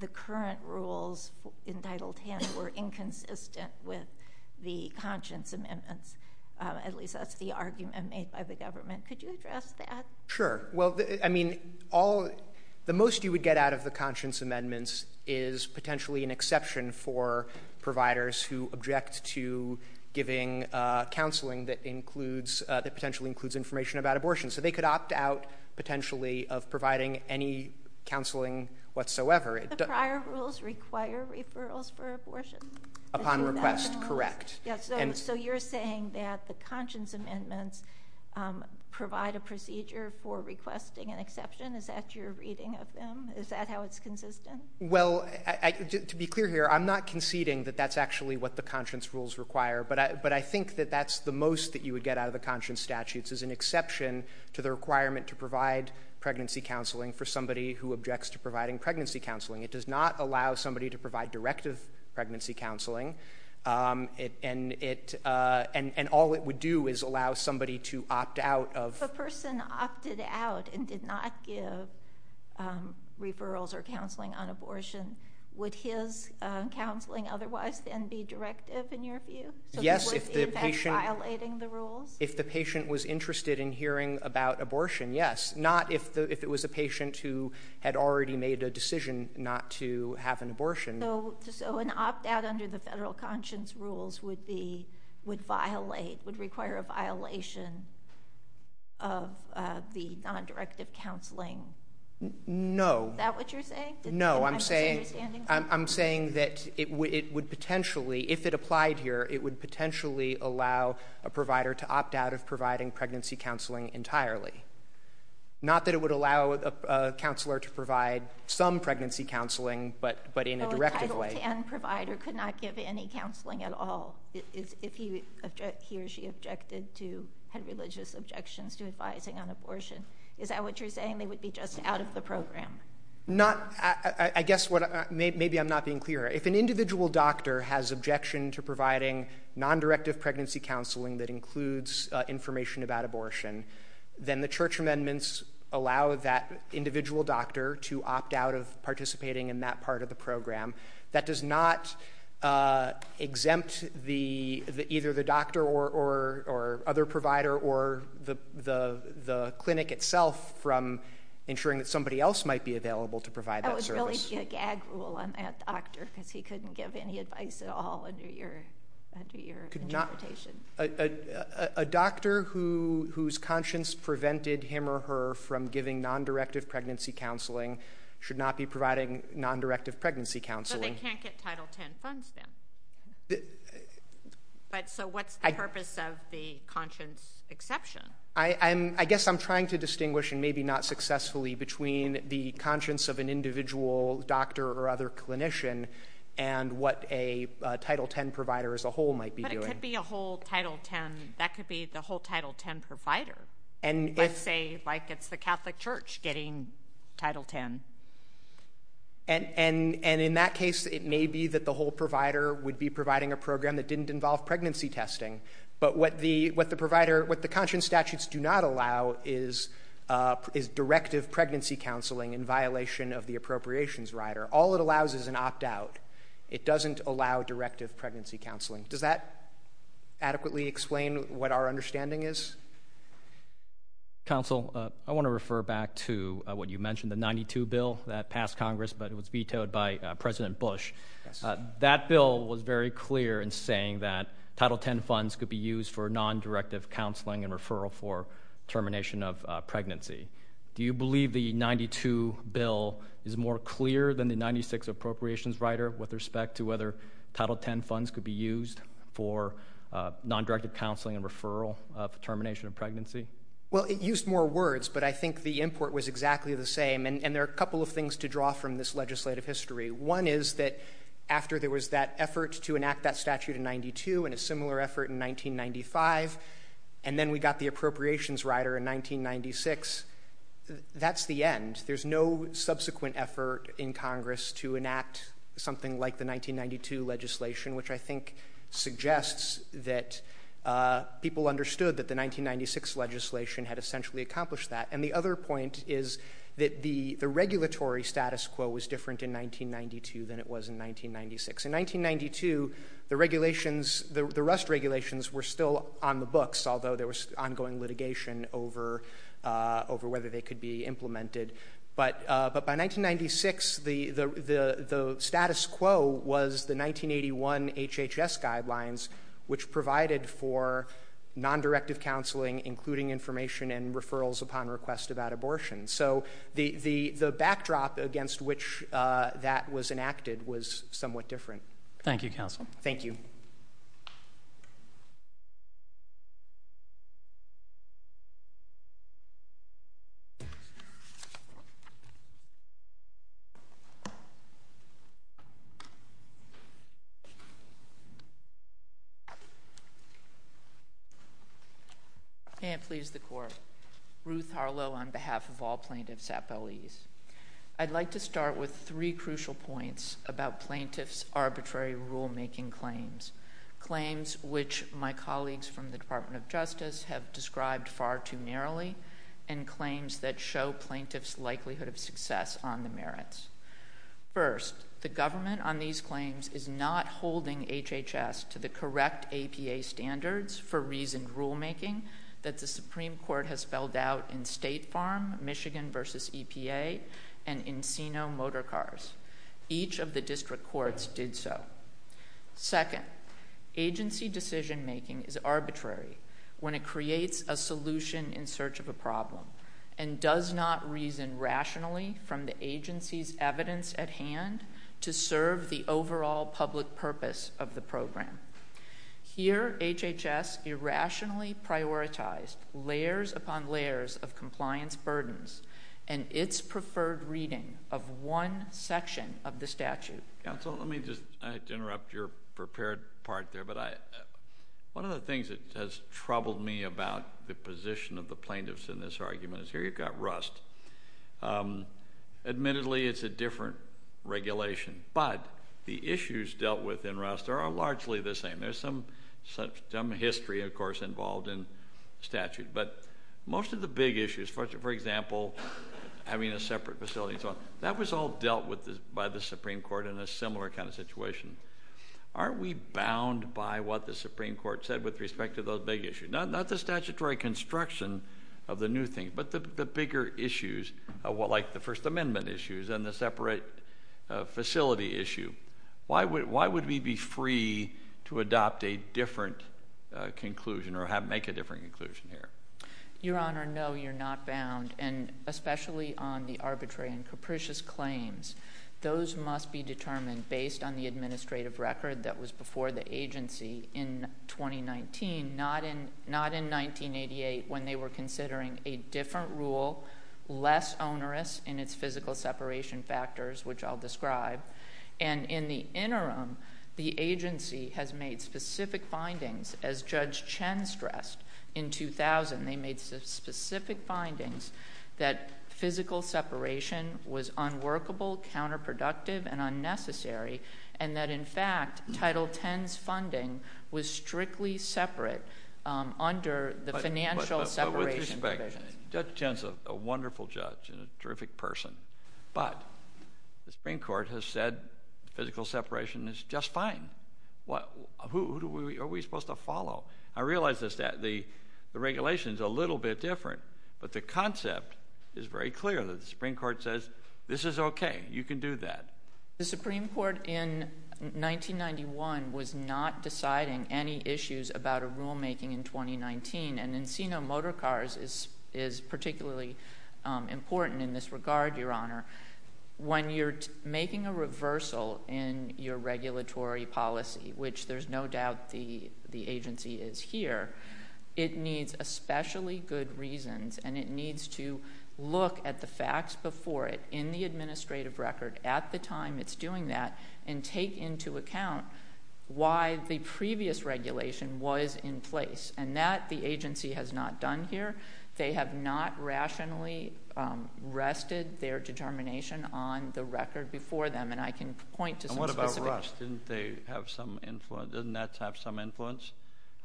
the current rules in Title X were inconsistent with the conscience amendments. At least that's the argument made by the government. Could you address that? Sure. Well, I mean, the most you would get out of the conscience amendments is potentially an exception for providers who object to giving counseling that includes, that potentially includes information about abortion. So they could opt out potentially of providing any counseling whatsoever. The prior rules require referrals for abortion. Upon request, correct. So you're saying that the conscience amendments provide a procedure for requesting an exception. Is that your reading of them? Is that how it's consistent? Well, to be clear here, I'm not conceding that that's actually what the conscience rules require, but I think that that's the most that you would get out of the conscience statutes, is an exception to the requirement to provide pregnancy counseling for somebody who objects to providing pregnancy counseling. It does not allow somebody to provide directive pregnancy counseling, and all it would do is allow somebody to opt out of If a person opted out and did not give referrals or counseling on abortion, would his counseling otherwise then be directive in your view? Yes, if the patient was interested in hearing about abortion, yes. Not if it was a patient who had already made a decision not to have an abortion. So an opt-out under the federal conscience rules would require a violation of the non-directive counseling? No. Is that what you're saying? No, I'm saying that if it applied here, it would potentially allow a provider to opt out of providing pregnancy counseling entirely. Not that it would allow a counselor to provide some pregnancy counseling, but in a directive way. So a Title X provider could not give any counseling at all if he or she objected to, had religious objections to advising on abortion. Is that what you're saying? They would be just out of the program? Not, I guess, maybe I'm not being clear. If an individual doctor has objection to providing non-directive pregnancy counseling that includes information about abortion, then the church amendments allow that individual doctor to opt out of participating in that part of the program. That does not exempt either the doctor or other provider or the clinic itself from ensuring that somebody else might be available to provide that service. That would really be a gag rule on that doctor because he couldn't give any advice at all under your interpretation. A doctor whose conscience prevented him or her from giving non-directive pregnancy counseling should not be providing non-directive pregnancy counseling. But they can't get Title X funds then. So what's the purpose of the conscience exception? I guess I'm trying to distinguish, and maybe not successfully, between the conscience of an individual doctor or other clinician and what a Title X provider as a whole might be doing. But it could be a whole Title X, that could be the whole Title X provider. Let's say, like, it's the Catholic Church getting Title X. And in that case, it may be that the whole provider would be providing a program that didn't involve pregnancy testing. But what the provider, what the conscience statutes do not allow is directive pregnancy counseling in violation of the appropriations rider. All it allows is an opt-out. It doesn't allow directive pregnancy counseling. Does that adequately explain what our understanding is? Counsel, I want to refer back to what you mentioned, the 92 bill that passed Congress, but it was vetoed by President Bush. That bill was very clear in saying that Title X funds could be used for non-directive counseling and referral for termination of pregnancy. Do you believe the 92 bill is more clear than the 96 appropriations rider with respect to whether Title X funds could be used for non-directive counseling and referral for termination of pregnancy? Well, it used more words, but I think the import was exactly the same. And there are a couple of things to draw from this legislative history. One is that after there was that effort to enact that statute in 92 and a similar effort in 1995, and then we got the appropriations rider in 1996, that's the end. There's no subsequent effort in Congress to enact something like the 1992 legislation, which I think suggests that people understood that the 1996 legislation had essentially accomplished that. And the other point is that the regulatory status quo was different in 1992 than it was in 1996. In 1992, the regulations, the rust regulations were still on the books, although there was ongoing litigation over whether they could be implemented. But by 1996, the status quo was the 1981 HHS guidelines, which provided for non-directive counseling, including information and referrals upon request about abortion. So the backdrop against which that was enacted was somewhat different. Thank you, counsel. Thank you. Thank you. I can't please the Court. Ruth Harlow on behalf of all plaintiffs at Belize. I'd like to start with three crucial points about plaintiffs' arbitrary rulemaking claims, claims which my colleagues from the Department of Justice have described far too narrowly, and claims that show plaintiffs' likelihood of success on the merits. First, the government on these claims is not holding HHS to the correct APA standards for reasoned rulemaking that the Supreme Court has spelled out in State Farm, Michigan v. EPA, and in CINO Motorcars. Each of the district courts did so. Second, agency decision-making is arbitrary when it creates a solution in search of a problem and does not reason rationally from the agency's evidence at hand to serve the overall public purpose of the program. Here, HHS irrationally prioritized layers upon layers of compliance burdens and its preferred reading of one section of the statute. Counsel, let me just interrupt your prepared part there, but one of the things that has troubled me about the position of the plaintiffs in this argument is here you've got rust. Admittedly, it's a different regulation, but the issues dealt with in rust are largely the same. There's some history, of course, involved in statute, but most of the big issues, for example, having a separate facility and so on, that was all dealt with by the Supreme Court in a similar kind of situation. Aren't we bound by what the Supreme Court said with respect to those big issues? Not the statutory construction of the new thing, but the bigger issues, like the First Amendment issues and the separate facility issue. Why would we be free to adopt a different conclusion or make a different conclusion here? Your Honor, no, you're not bound, and especially on the arbitrary and capricious claims. Those must be determined based on the administrative record that was before the agency in 2019, not in 1988 when they were considering a different rule, less onerous in its physical separation factors, which I'll describe, and in the interim, the agency has made specific findings, as Judge Chen stressed in 2000. They made specific findings that physical separation was unworkable, counterproductive, and unnecessary, and that, in fact, Title X's funding was strictly separate under the financial separation provisions. But with respect, Judge Chen's a wonderful judge and a terrific person, but the Supreme Court has said physical separation is just fine. Who are we supposed to follow? I realize the regulation is a little bit different, but the concept is very clear. The Supreme Court says this is okay. You can do that. The Supreme Court in 1991 was not deciding any issues about a rulemaking in 2019, and Encino Motor Cars is particularly important in this regard, Your Honor. When you're making a reversal in your regulatory policy, which there's no doubt the agency is here, it needs especially good reasons, and it needs to look at the facts before it in the administrative record at the time it's doing that and take into account why the previous regulation was in place, and that the agency has not done here. They have not rationally rested their determination on the record before them, and I can point to some specifics. And what about Rust? Didn't they have some influence? Doesn't that have some influence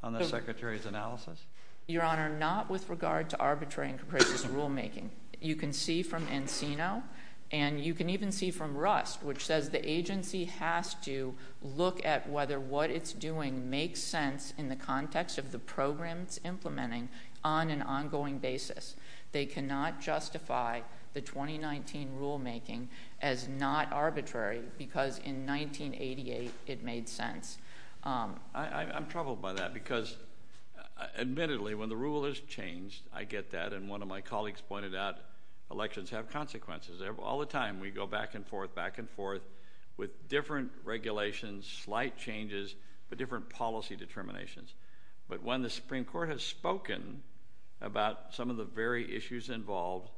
on the Secretary's analysis? Your Honor, not with regard to arbitrary and capricious rulemaking. You can see from Encino, and you can even see from Rust, which says the agency has to look at whether what it's doing makes sense in the context of the program it's implementing on an ongoing basis. They cannot justify the 2019 rulemaking as not arbitrary because in 1988 it made sense. I'm troubled by that because, admittedly, when the rule has changed, I get that, and one of my colleagues pointed out elections have consequences. All the time we go back and forth, back and forth with different regulations, slight changes, but different policy determinations. But when the Supreme Court has spoken about some of the very issues involved,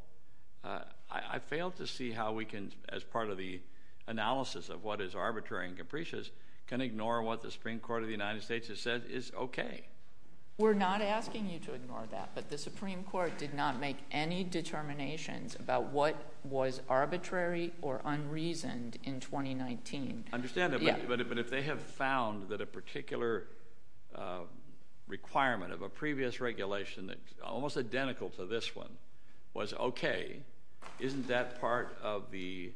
I fail to see how we can, as part of the analysis of what is arbitrary and capricious, can ignore what the Supreme Court of the United States has said is okay. We're not asking you to ignore that, but the Supreme Court did not make any determinations about what was arbitrary or unreasoned in 2019. I understand that, but if they have found that a particular requirement of a previous regulation that's almost identical to this one was okay, isn't that part of the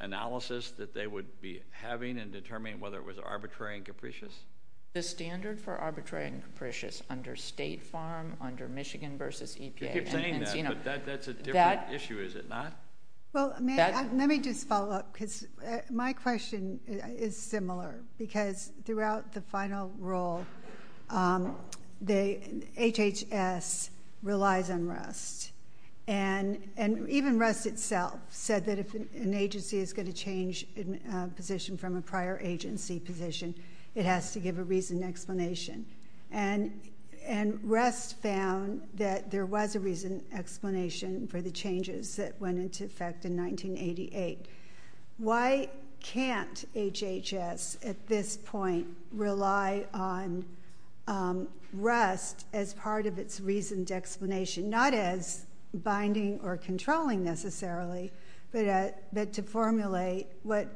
analysis that they would be having and determining whether it was arbitrary and capricious? The standard for arbitrary and capricious under State Farm, under Michigan versus EPA. You keep saying that, but that's a different issue, is it not? Well, let me just follow up because my question is similar because throughout the final rule, HHS relies on REST. And even REST itself said that if an agency is going to change position from a prior agency position, it has to give a reasoned explanation. And REST found that there was a reasoned explanation for the changes that went into effect in 1988. Why can't HHS at this point rely on REST as part of its reasoned explanation? Not as binding or controlling necessarily, but to formulate what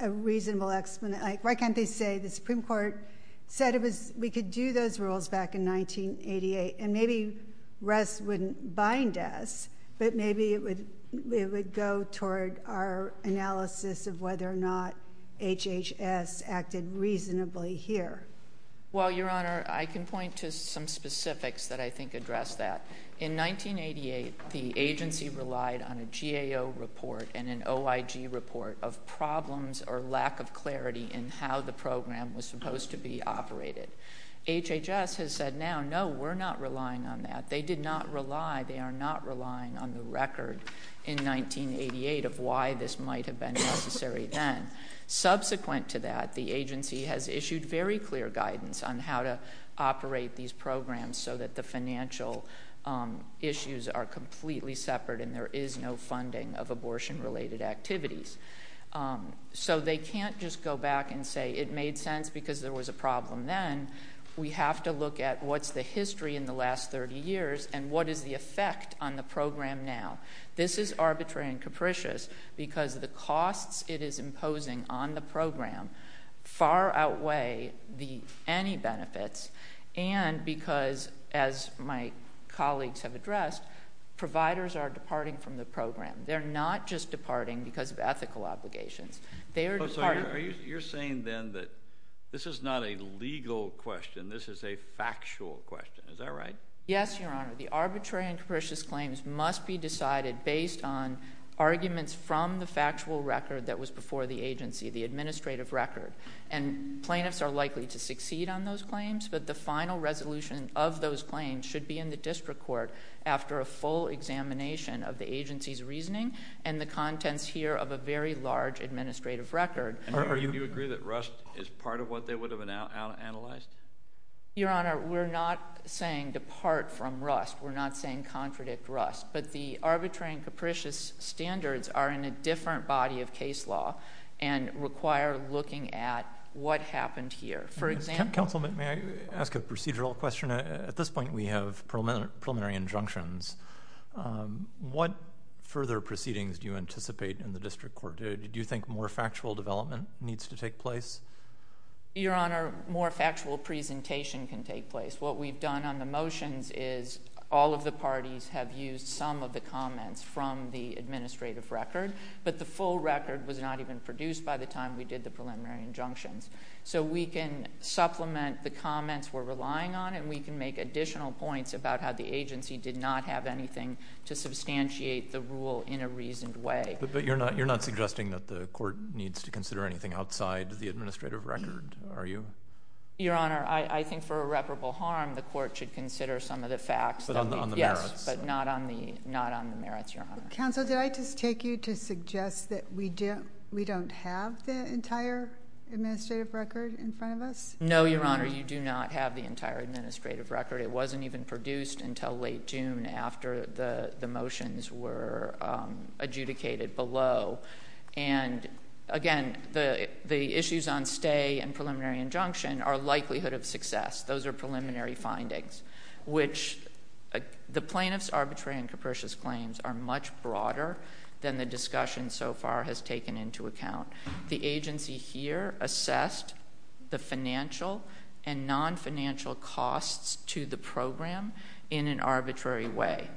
a reasonable explanation... Why can't they say the Supreme Court said we could do those rules back in 1988 and maybe REST wouldn't bind us, but maybe it would go toward our analysis of whether or not HHS acted reasonably here. Well, Your Honor, I can point to some specifics that I think address that. In 1988, the agency relied on a GAO report and an OIG report of problems or lack of clarity in how the program was supposed to be operated. HHS has said now, no, we're not relying on that. They did not rely. They are not relying on the record in 1988 of why this might have been necessary then. Subsequent to that, the agency has issued very clear guidance on how to operate these programs so that the financial issues are completely separate and there is no funding of abortion-related activities. So they can't just go back and say it made sense because there was a problem then. We have to look at what's the history in the last 30 years and what is the effect on the program now. This is arbitrary and capricious because the costs it is imposing on the program far outweigh any benefits and because, as my colleagues have addressed, providers are departing from the program. They're not just departing because of ethical obligations. They are departing... So you're saying then that this is not a legal question. This is a factual question. Is that right? Yes, Your Honor. The arbitrary and capricious claims must be decided based on arguments from the factual record that was before the agency, the administrative record. And plaintiffs are likely to succeed on those claims, but the final resolution of those claims should be in the district court after a full examination of the agency's reasoning and the contents here of a very large administrative record. Do you agree that Rust is part of what they would have analyzed? Your Honor, we're not saying depart from Rust. We're not saying contradict Rust. But the arbitrary and capricious standards are in a different body of case law and require looking at what happened here. For example... Counsel, may I ask a procedural question? At this point, we have preliminary injunctions. What further proceedings do you anticipate in the district court? Do you think more factual development needs to take place? Your Honor, more factual presentation can take place. What we've done on the motions is all of the parties have used some of the comments from the administrative record, but the full record was not even produced by the time we did the preliminary injunctions. So we can supplement the comments we're relying on and we can make additional points about how the agency did not have anything to substantiate the rule in a reasoned way. But you're not suggesting that the court needs to consider anything outside the administrative record, are you? Your Honor, I think for irreparable harm, the court should consider some of the facts. But on the merits? Yes, but not on the merits, Your Honor. Counsel, did I just take you to suggest that we don't have the entire administrative record in front of us? No, Your Honor, you do not have the entire administrative record. It wasn't even produced until late June after the motions were adjudicated below. And again, the issues on stay and preliminary injunction are likelihood of success. Those are preliminary findings, which the plaintiff's arbitrary and capricious claims are much broader than the discussion so far has taken into account. The agency here assessed the financial and non-financial costs to the program in an arbitrary way.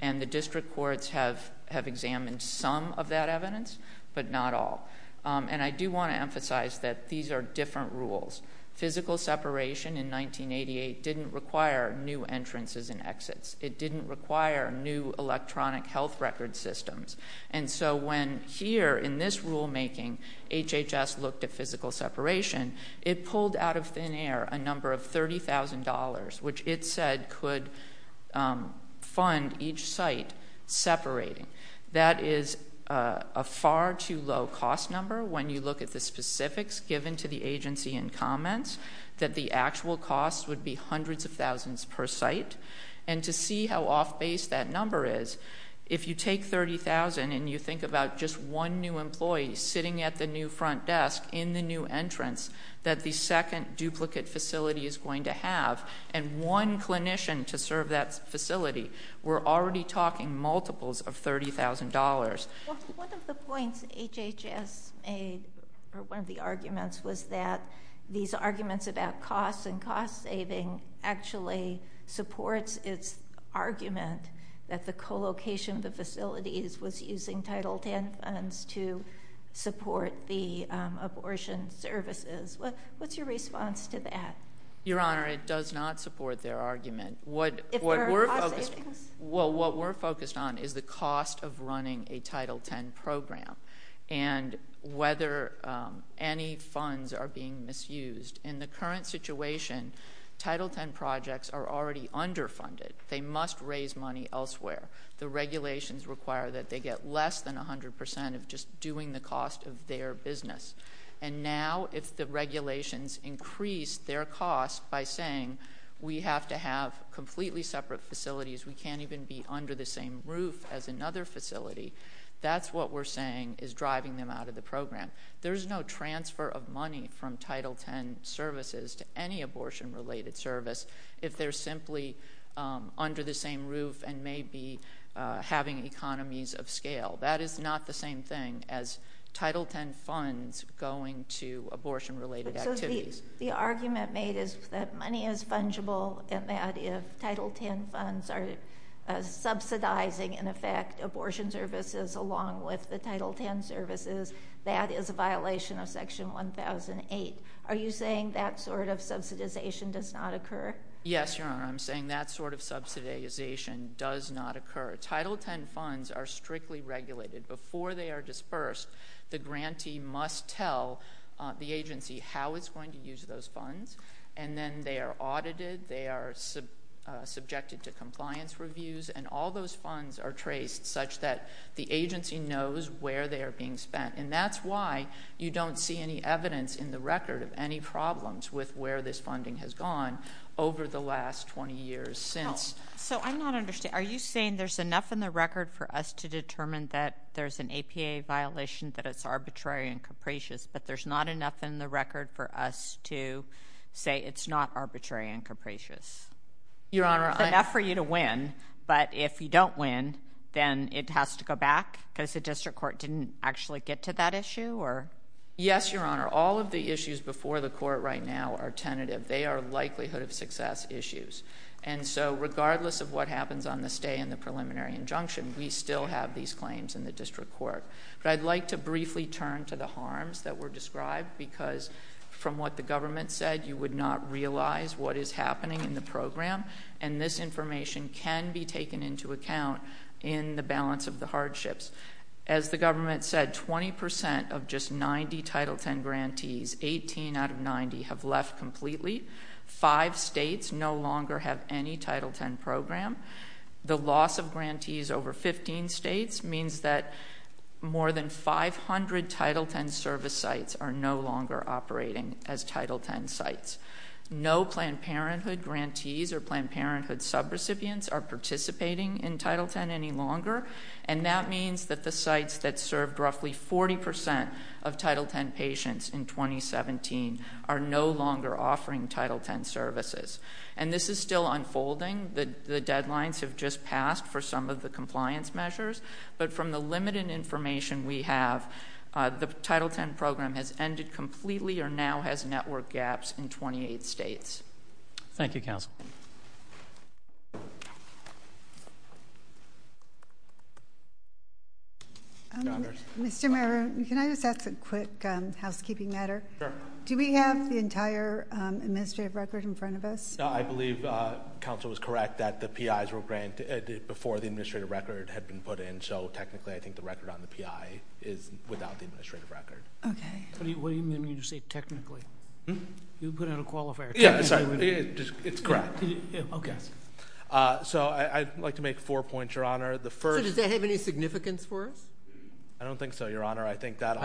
And the district courts have examined some of that evidence, but not all. And I do want to emphasize that these are different rules. Physical separation in 1988 didn't require new entrances and exits. It didn't require new electronic health record systems. And so when here in this rulemaking, HHS looked at physical separation, it pulled out of thin air a number of $30,000, which it said could fund each site separating. That is a far too low cost number when you look at the specifics given to the agency in comments, that the actual cost would be hundreds of thousands per site. And to see how off base that number is, if you take $30,000 and you think about just one new employee sitting at the new front desk in the new entrance, that the second duplicate facility is going to have, and one clinician to serve that facility, we're already talking multiples of $30,000. One of the points HHS made, or one of the arguments, was that these arguments about costs and cost saving actually supports its argument that the co-location of the facilities was using Title X funds to support the abortion services. What's your response to that? Your Honor, it does not support their argument. What we're focused on is the cost of running a Title X program, and whether any funds are being misused. In the current situation, Title X projects are already underfunded. They must raise money elsewhere. The regulations require that they get less than 100% of just doing the cost of their business. And now if the regulations increase their cost by saying we have to have completely separate facilities, we can't even be under the same roof as another facility, that's what we're saying is driving them out of the program. There's no transfer of money from Title X services to any abortion related service if they're simply under the same roof and may be having economies of scale. That is not the same thing as Title X funds going to abortion related activities. So the argument made is that money is fungible, and that if Title X funds are subsidizing, in effect, abortion services along with the Title X services, that is a violation of Section 1008. Are you saying that sort of subsidization does not occur? Yes, Your Honor, I'm saying that sort of subsidization does not occur. Title X funds are strictly regulated. Before they are dispersed, the grantee must tell the agency how it's going to use those funds, and then they are audited, they are subjected to compliance reviews, and all those funds are traced such that the agency knows where they are being spent. And that's why you don't see any evidence in the record of any problems with where this funding has gone over the last 20 years since. So I'm not understanding. Are you saying there's enough in the record for us to determine that there's an APA violation, that it's arbitrary and capricious, but there's not enough in the record for us to say it's not arbitrary and capricious? There's enough for you to win, but if you don't win, then it has to go back because the district court didn't actually get to that issue? Yes, Your Honor. All of the issues before the court right now are tentative. They are likelihood of success issues. And so regardless of what happens on this day in the preliminary injunction, we still have these claims in the district court. But I'd like to briefly turn to the harms that were described because from what the government said, you would not realize what is happening in the program, and this information can be taken into account in the balance of the hardships. As the government said, 20% of just 90 Title X grantees, 18 out of 90, have left completely. Five states no longer have any Title X program. The loss of grantees over 15 states means that more than 500 Title X service sites are no longer operating as Title X sites. No Planned Parenthood grantees or Planned Parenthood subrecipients are participating in Title X any longer, and that means that the sites that served roughly 40% of Title X patients in 2017 are no longer offering Title X services. And this is still unfolding. The deadlines have just passed for some of the compliance measures, but from the limited information we have, the Title X program has ended completely or now has network gaps in 28 states. Thank you, counsel. Mr. Mayor, can I just ask a quick housekeeping matter? Sure. Do we have the entire administrative record in front of us? I believe counsel was correct that the PIs were granted before the administrative record had been put in, so technically I think the record on the PI is without the administrative record. Okay. What do you mean when you say technically? You put out a qualifier. Yeah, sorry. It's correct. Okay. So I'd like to make four points, Your Honor. So does that have any significance for us? I don't think so, Your Honor. I think that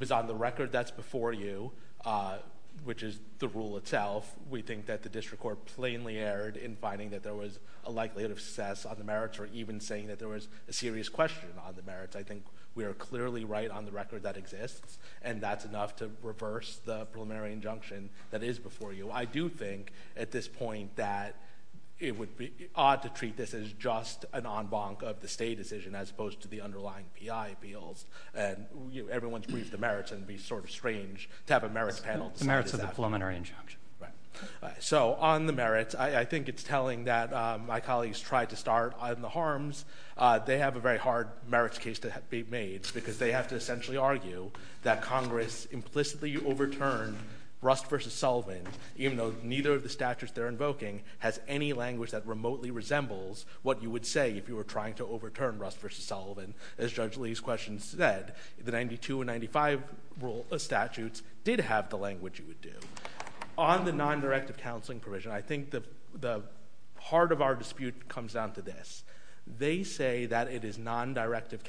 is on the record. That's before you, which is the rule itself. We think that the district court plainly erred in finding that there was a likelihood of success on the merits or even saying that there was a serious question on the merits. I think we are clearly right on the record that exists, and that's enough to reverse the preliminary injunction that is before you. I do think at this point that it would be odd to treat this as just an en banc of the state decision as opposed to the underlying PI appeals. Everyone's briefed the merits and it would be sort of strange to have a merits panel. The merits of the preliminary injunction. Right. So on the merits, I think it's telling that my colleagues tried to start on the harms. They have a very hard merits case to be made because they have to essentially argue that Congress implicitly overturned Rust v. Sullivan, even though neither of the statutes they're invoking has any language that remotely resembles what you would say if you were trying to overturn Rust v. Sullivan. Instead, the 92 and 95 statutes did have the language you would do. On the non-directive counseling provision, I think the heart of our dispute comes down to this. They say that it is non-directive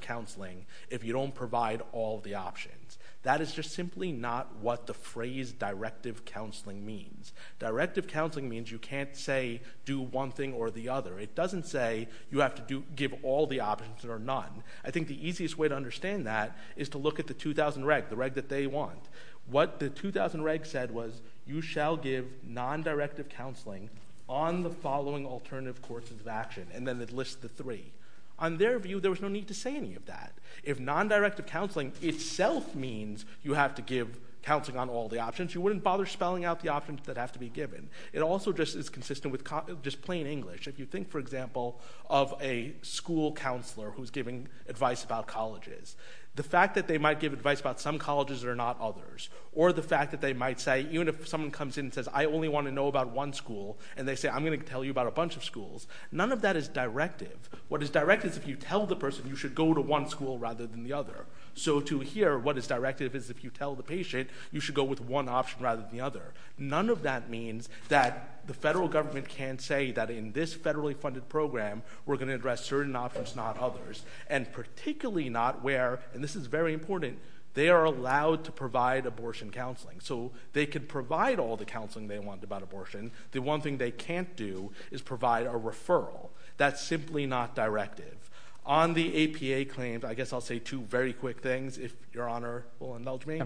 counseling if you don't provide all the options. That is just simply not what the phrase directive counseling means. Directive counseling means you can't say do one thing or the other. It doesn't say you have to give all the options or none. I think the easiest way to understand that is to look at the 2000 reg, the reg that they want. What the 2000 reg said was you shall give non-directive counseling on the following alternative courses of action, and then it lists the three. On their view, there was no need to say any of that. If non-directive counseling itself means you have to give counseling on all the options, you wouldn't bother spelling out the options that have to be given. It also just is consistent with just plain English. If you think, for example, of a school counselor who is giving advice about colleges, the fact that they might give advice about some colleges that are not others, or the fact that they might say, even if someone comes in and says I only want to know about one school, and they say I'm going to tell you about a bunch of schools, none of that is directive. What is directive is if you tell the person you should go to one school rather than the other. So to hear what is directive is if you tell the patient you should go with one option rather than the other. None of that means that the federal government can say that in this federally funded program, we're going to address certain options, not others, and particularly not where, and this is very important, they are allowed to provide abortion counseling. So they can provide all the counseling they want about abortion. The one thing they can't do is provide a referral. That's simply not directive. On the APA claims, I guess I'll say two very quick things, if Your Honor will indulge me.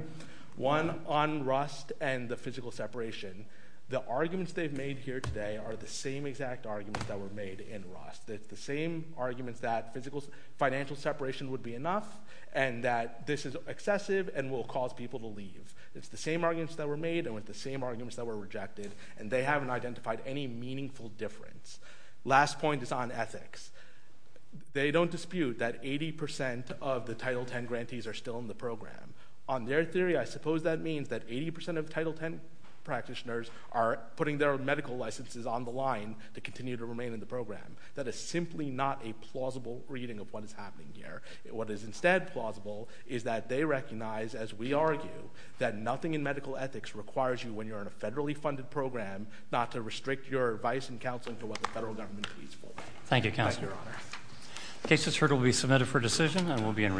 One, on Rust and the physical separation, the arguments they've made here today are the same exact arguments that were made in Rust. It's the same arguments that financial separation would be enough and that this is excessive and will cause people to leave. It's the same arguments that were made and with the same arguments that were rejected, and they haven't identified any meaningful difference. Last point is on ethics. They don't dispute that 80% of the Title X grantees are still in the program. On their theory, I suppose that means that 80% of Title X practitioners are putting their own medical licenses on the line to continue to remain in the program. That is simply not a plausible reading of what is happening here. What is instead plausible is that they recognize, as we argue, that nothing in medical ethics requires you when you're in a federally funded program not to restrict your advice and counseling to what the federal government pleads for. Thank you, Counselor. Thank you, Your Honor. The case that's heard will be submitted for decision and will be in court.